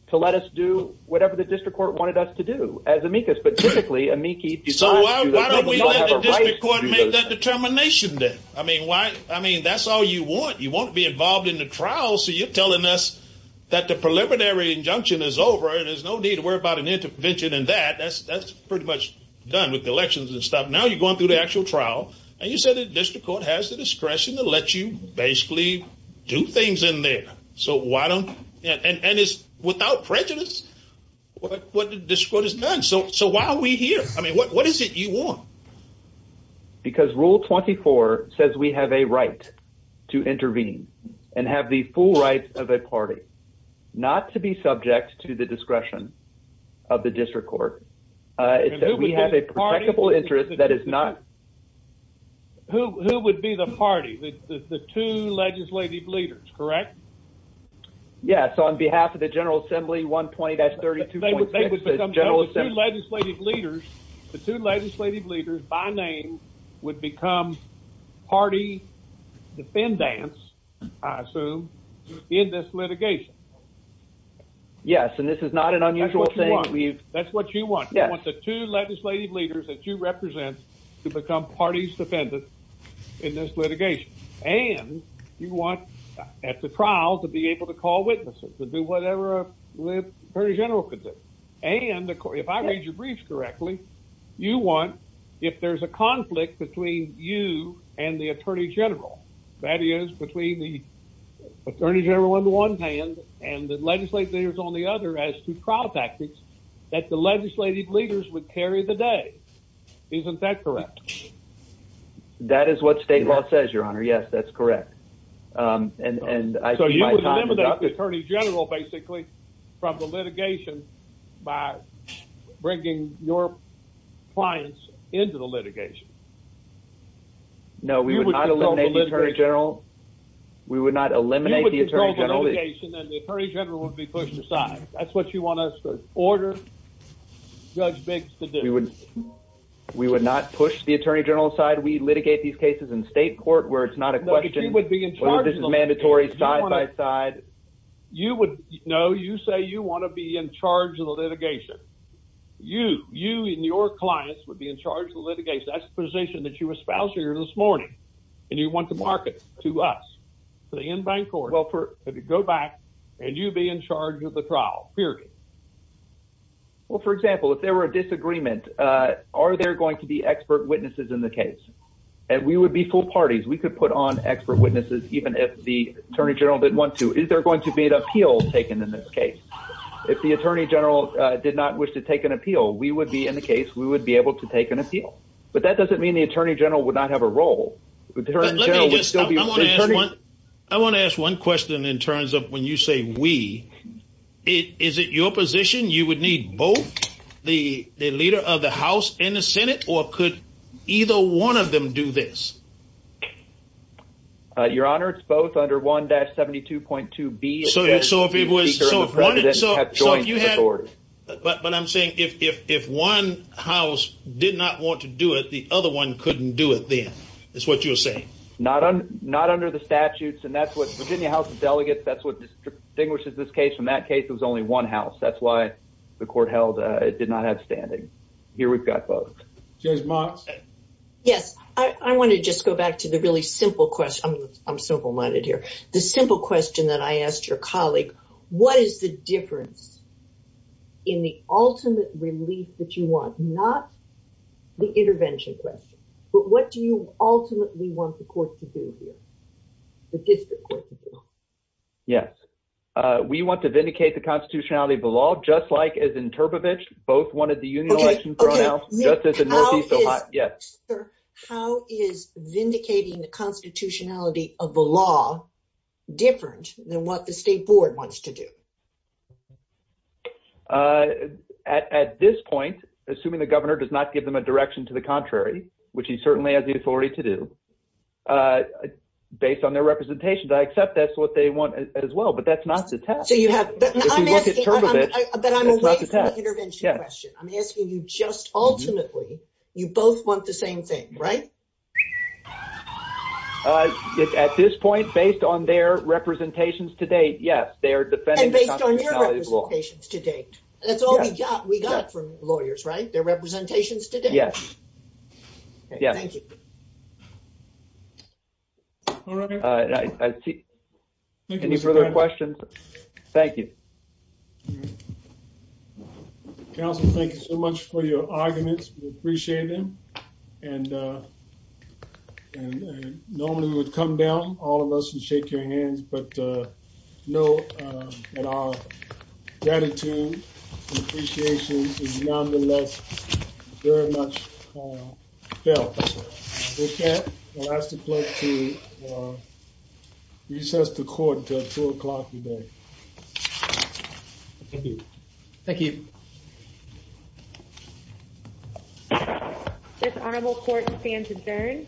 to let us do whatever the district court wanted us to do as amicus. But typically amicus. So why don't we let the district court make that determination then? I mean, that's all you want. You want to be involved in the trial. So you're telling us that the preliminary injunction is over and there's no need to worry about an intervention in that. That's pretty much done with the elections and stuff. Now you're going through the actual trial. And you said the district court has the discretion to let you basically do things in there. And it's without prejudice what the district court has done. So why are we here? I mean, what is it you want? Because rule 24 says we have a right to intervene and have the full right of a party not to be subject to the discretion of the district court. It says we have a protectable interest that is not. Who would be the party? The two legislative leaders, correct? Yes. That's on behalf of the General Assembly 120-32. The two legislative leaders by name would become party defendants, I assume, in this litigation. Yes, and this is not an unusual thing. That's what you want. You want the two legislative leaders that you represent to become party defendants in this litigation. And you want at the trial to be able to call witnesses, to do whatever the Attorney General could do. And if I read your brief correctly, you want if there's a conflict between you and the Attorney General, that is between the Attorney General on the one hand and the legislative leaders on the other as to trial tactics, that the legislative leaders would carry the day. Isn't that correct? That is what state law says, Your Honor. Yes, that's correct. So you would eliminate the Attorney General, basically, from the litigation by bringing your clients into the litigation. No, we would not eliminate the Attorney General. We would not eliminate the Attorney General. You would go to the location and the Attorney General would be pushed aside. That's what you want us to order Judge Biggs to do. We would not push the Attorney General aside. We'd litigate these cases in state court where it's not a question of whether this is mandatory side by side. No, you say you want to be in charge of the litigation. You and your clients would be in charge of the litigation. That's the position that you espoused here this morning and you want to mark it to us, to the in-bank court. Well, go back and you'd be in charge of the trial, period. Well, for example, if there were a disagreement, are there going to be expert witnesses in the case? And we would be full parties. We could put on expert witnesses even if the Attorney General didn't want to. Is there going to be an appeal taken in this case? If the Attorney General did not wish to take an appeal, we would be in the case. We would be able to take an appeal. But that doesn't mean the Attorney General would not have a role. The Attorney General would still be an attorney. I want to ask one question in terms of when you say we. Is it your position you would need both the leader of the House and the Senate or could either one of them do this? Your Honor, it's both under 1-72.2B. But I'm saying if one House did not want to do it, the other one couldn't do it then, is what you're saying? Not under the statutes and that's what Virginia House of Delegates, that's what distinguishes this case from that case. It was only one House. That's why the court held it did not have standing. Here we've got both. Judge Moss? Yes. I want to just go back to the really simple question. I'm simple-minded here. The simple question that I asked your colleague, what is the difference in the ultimate relief that you want, not the intervention question, but what do you ultimately want the court to do here, Yes. We want to vindicate the constitutionality of the law, just like as in Turbovich, both wanted the union election thrown out, just as in Northeast Ohio. Yes. How is vindicating the constitutionality of the law different than what the state board wants to do? At this point, assuming the governor does not give them a direction to the contrary, which he certainly has the authority to do, based on their representation, I accept that's what they want as well, but that's not the test. I'm asking you just ultimately, you both want the same thing, right? At this point, based on their representations to date, yes. And based on your representations to date. That's all we got. We got it from lawyers, right? Their representations to date. Yes. Thank you. All right. Any further questions? Thank you. Counselor, thank you so much for your arguments. We appreciate them. Normally, we would come down, all of us would shake your hands, but note that our gratitude and appreciation is nonetheless very much felt. If we can't, we'll ask the clerk to recess the court until 2 o'clock today. Thank you. Thank you. This honorable court stands adjourned.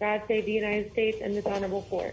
God save the United States and this honorable court.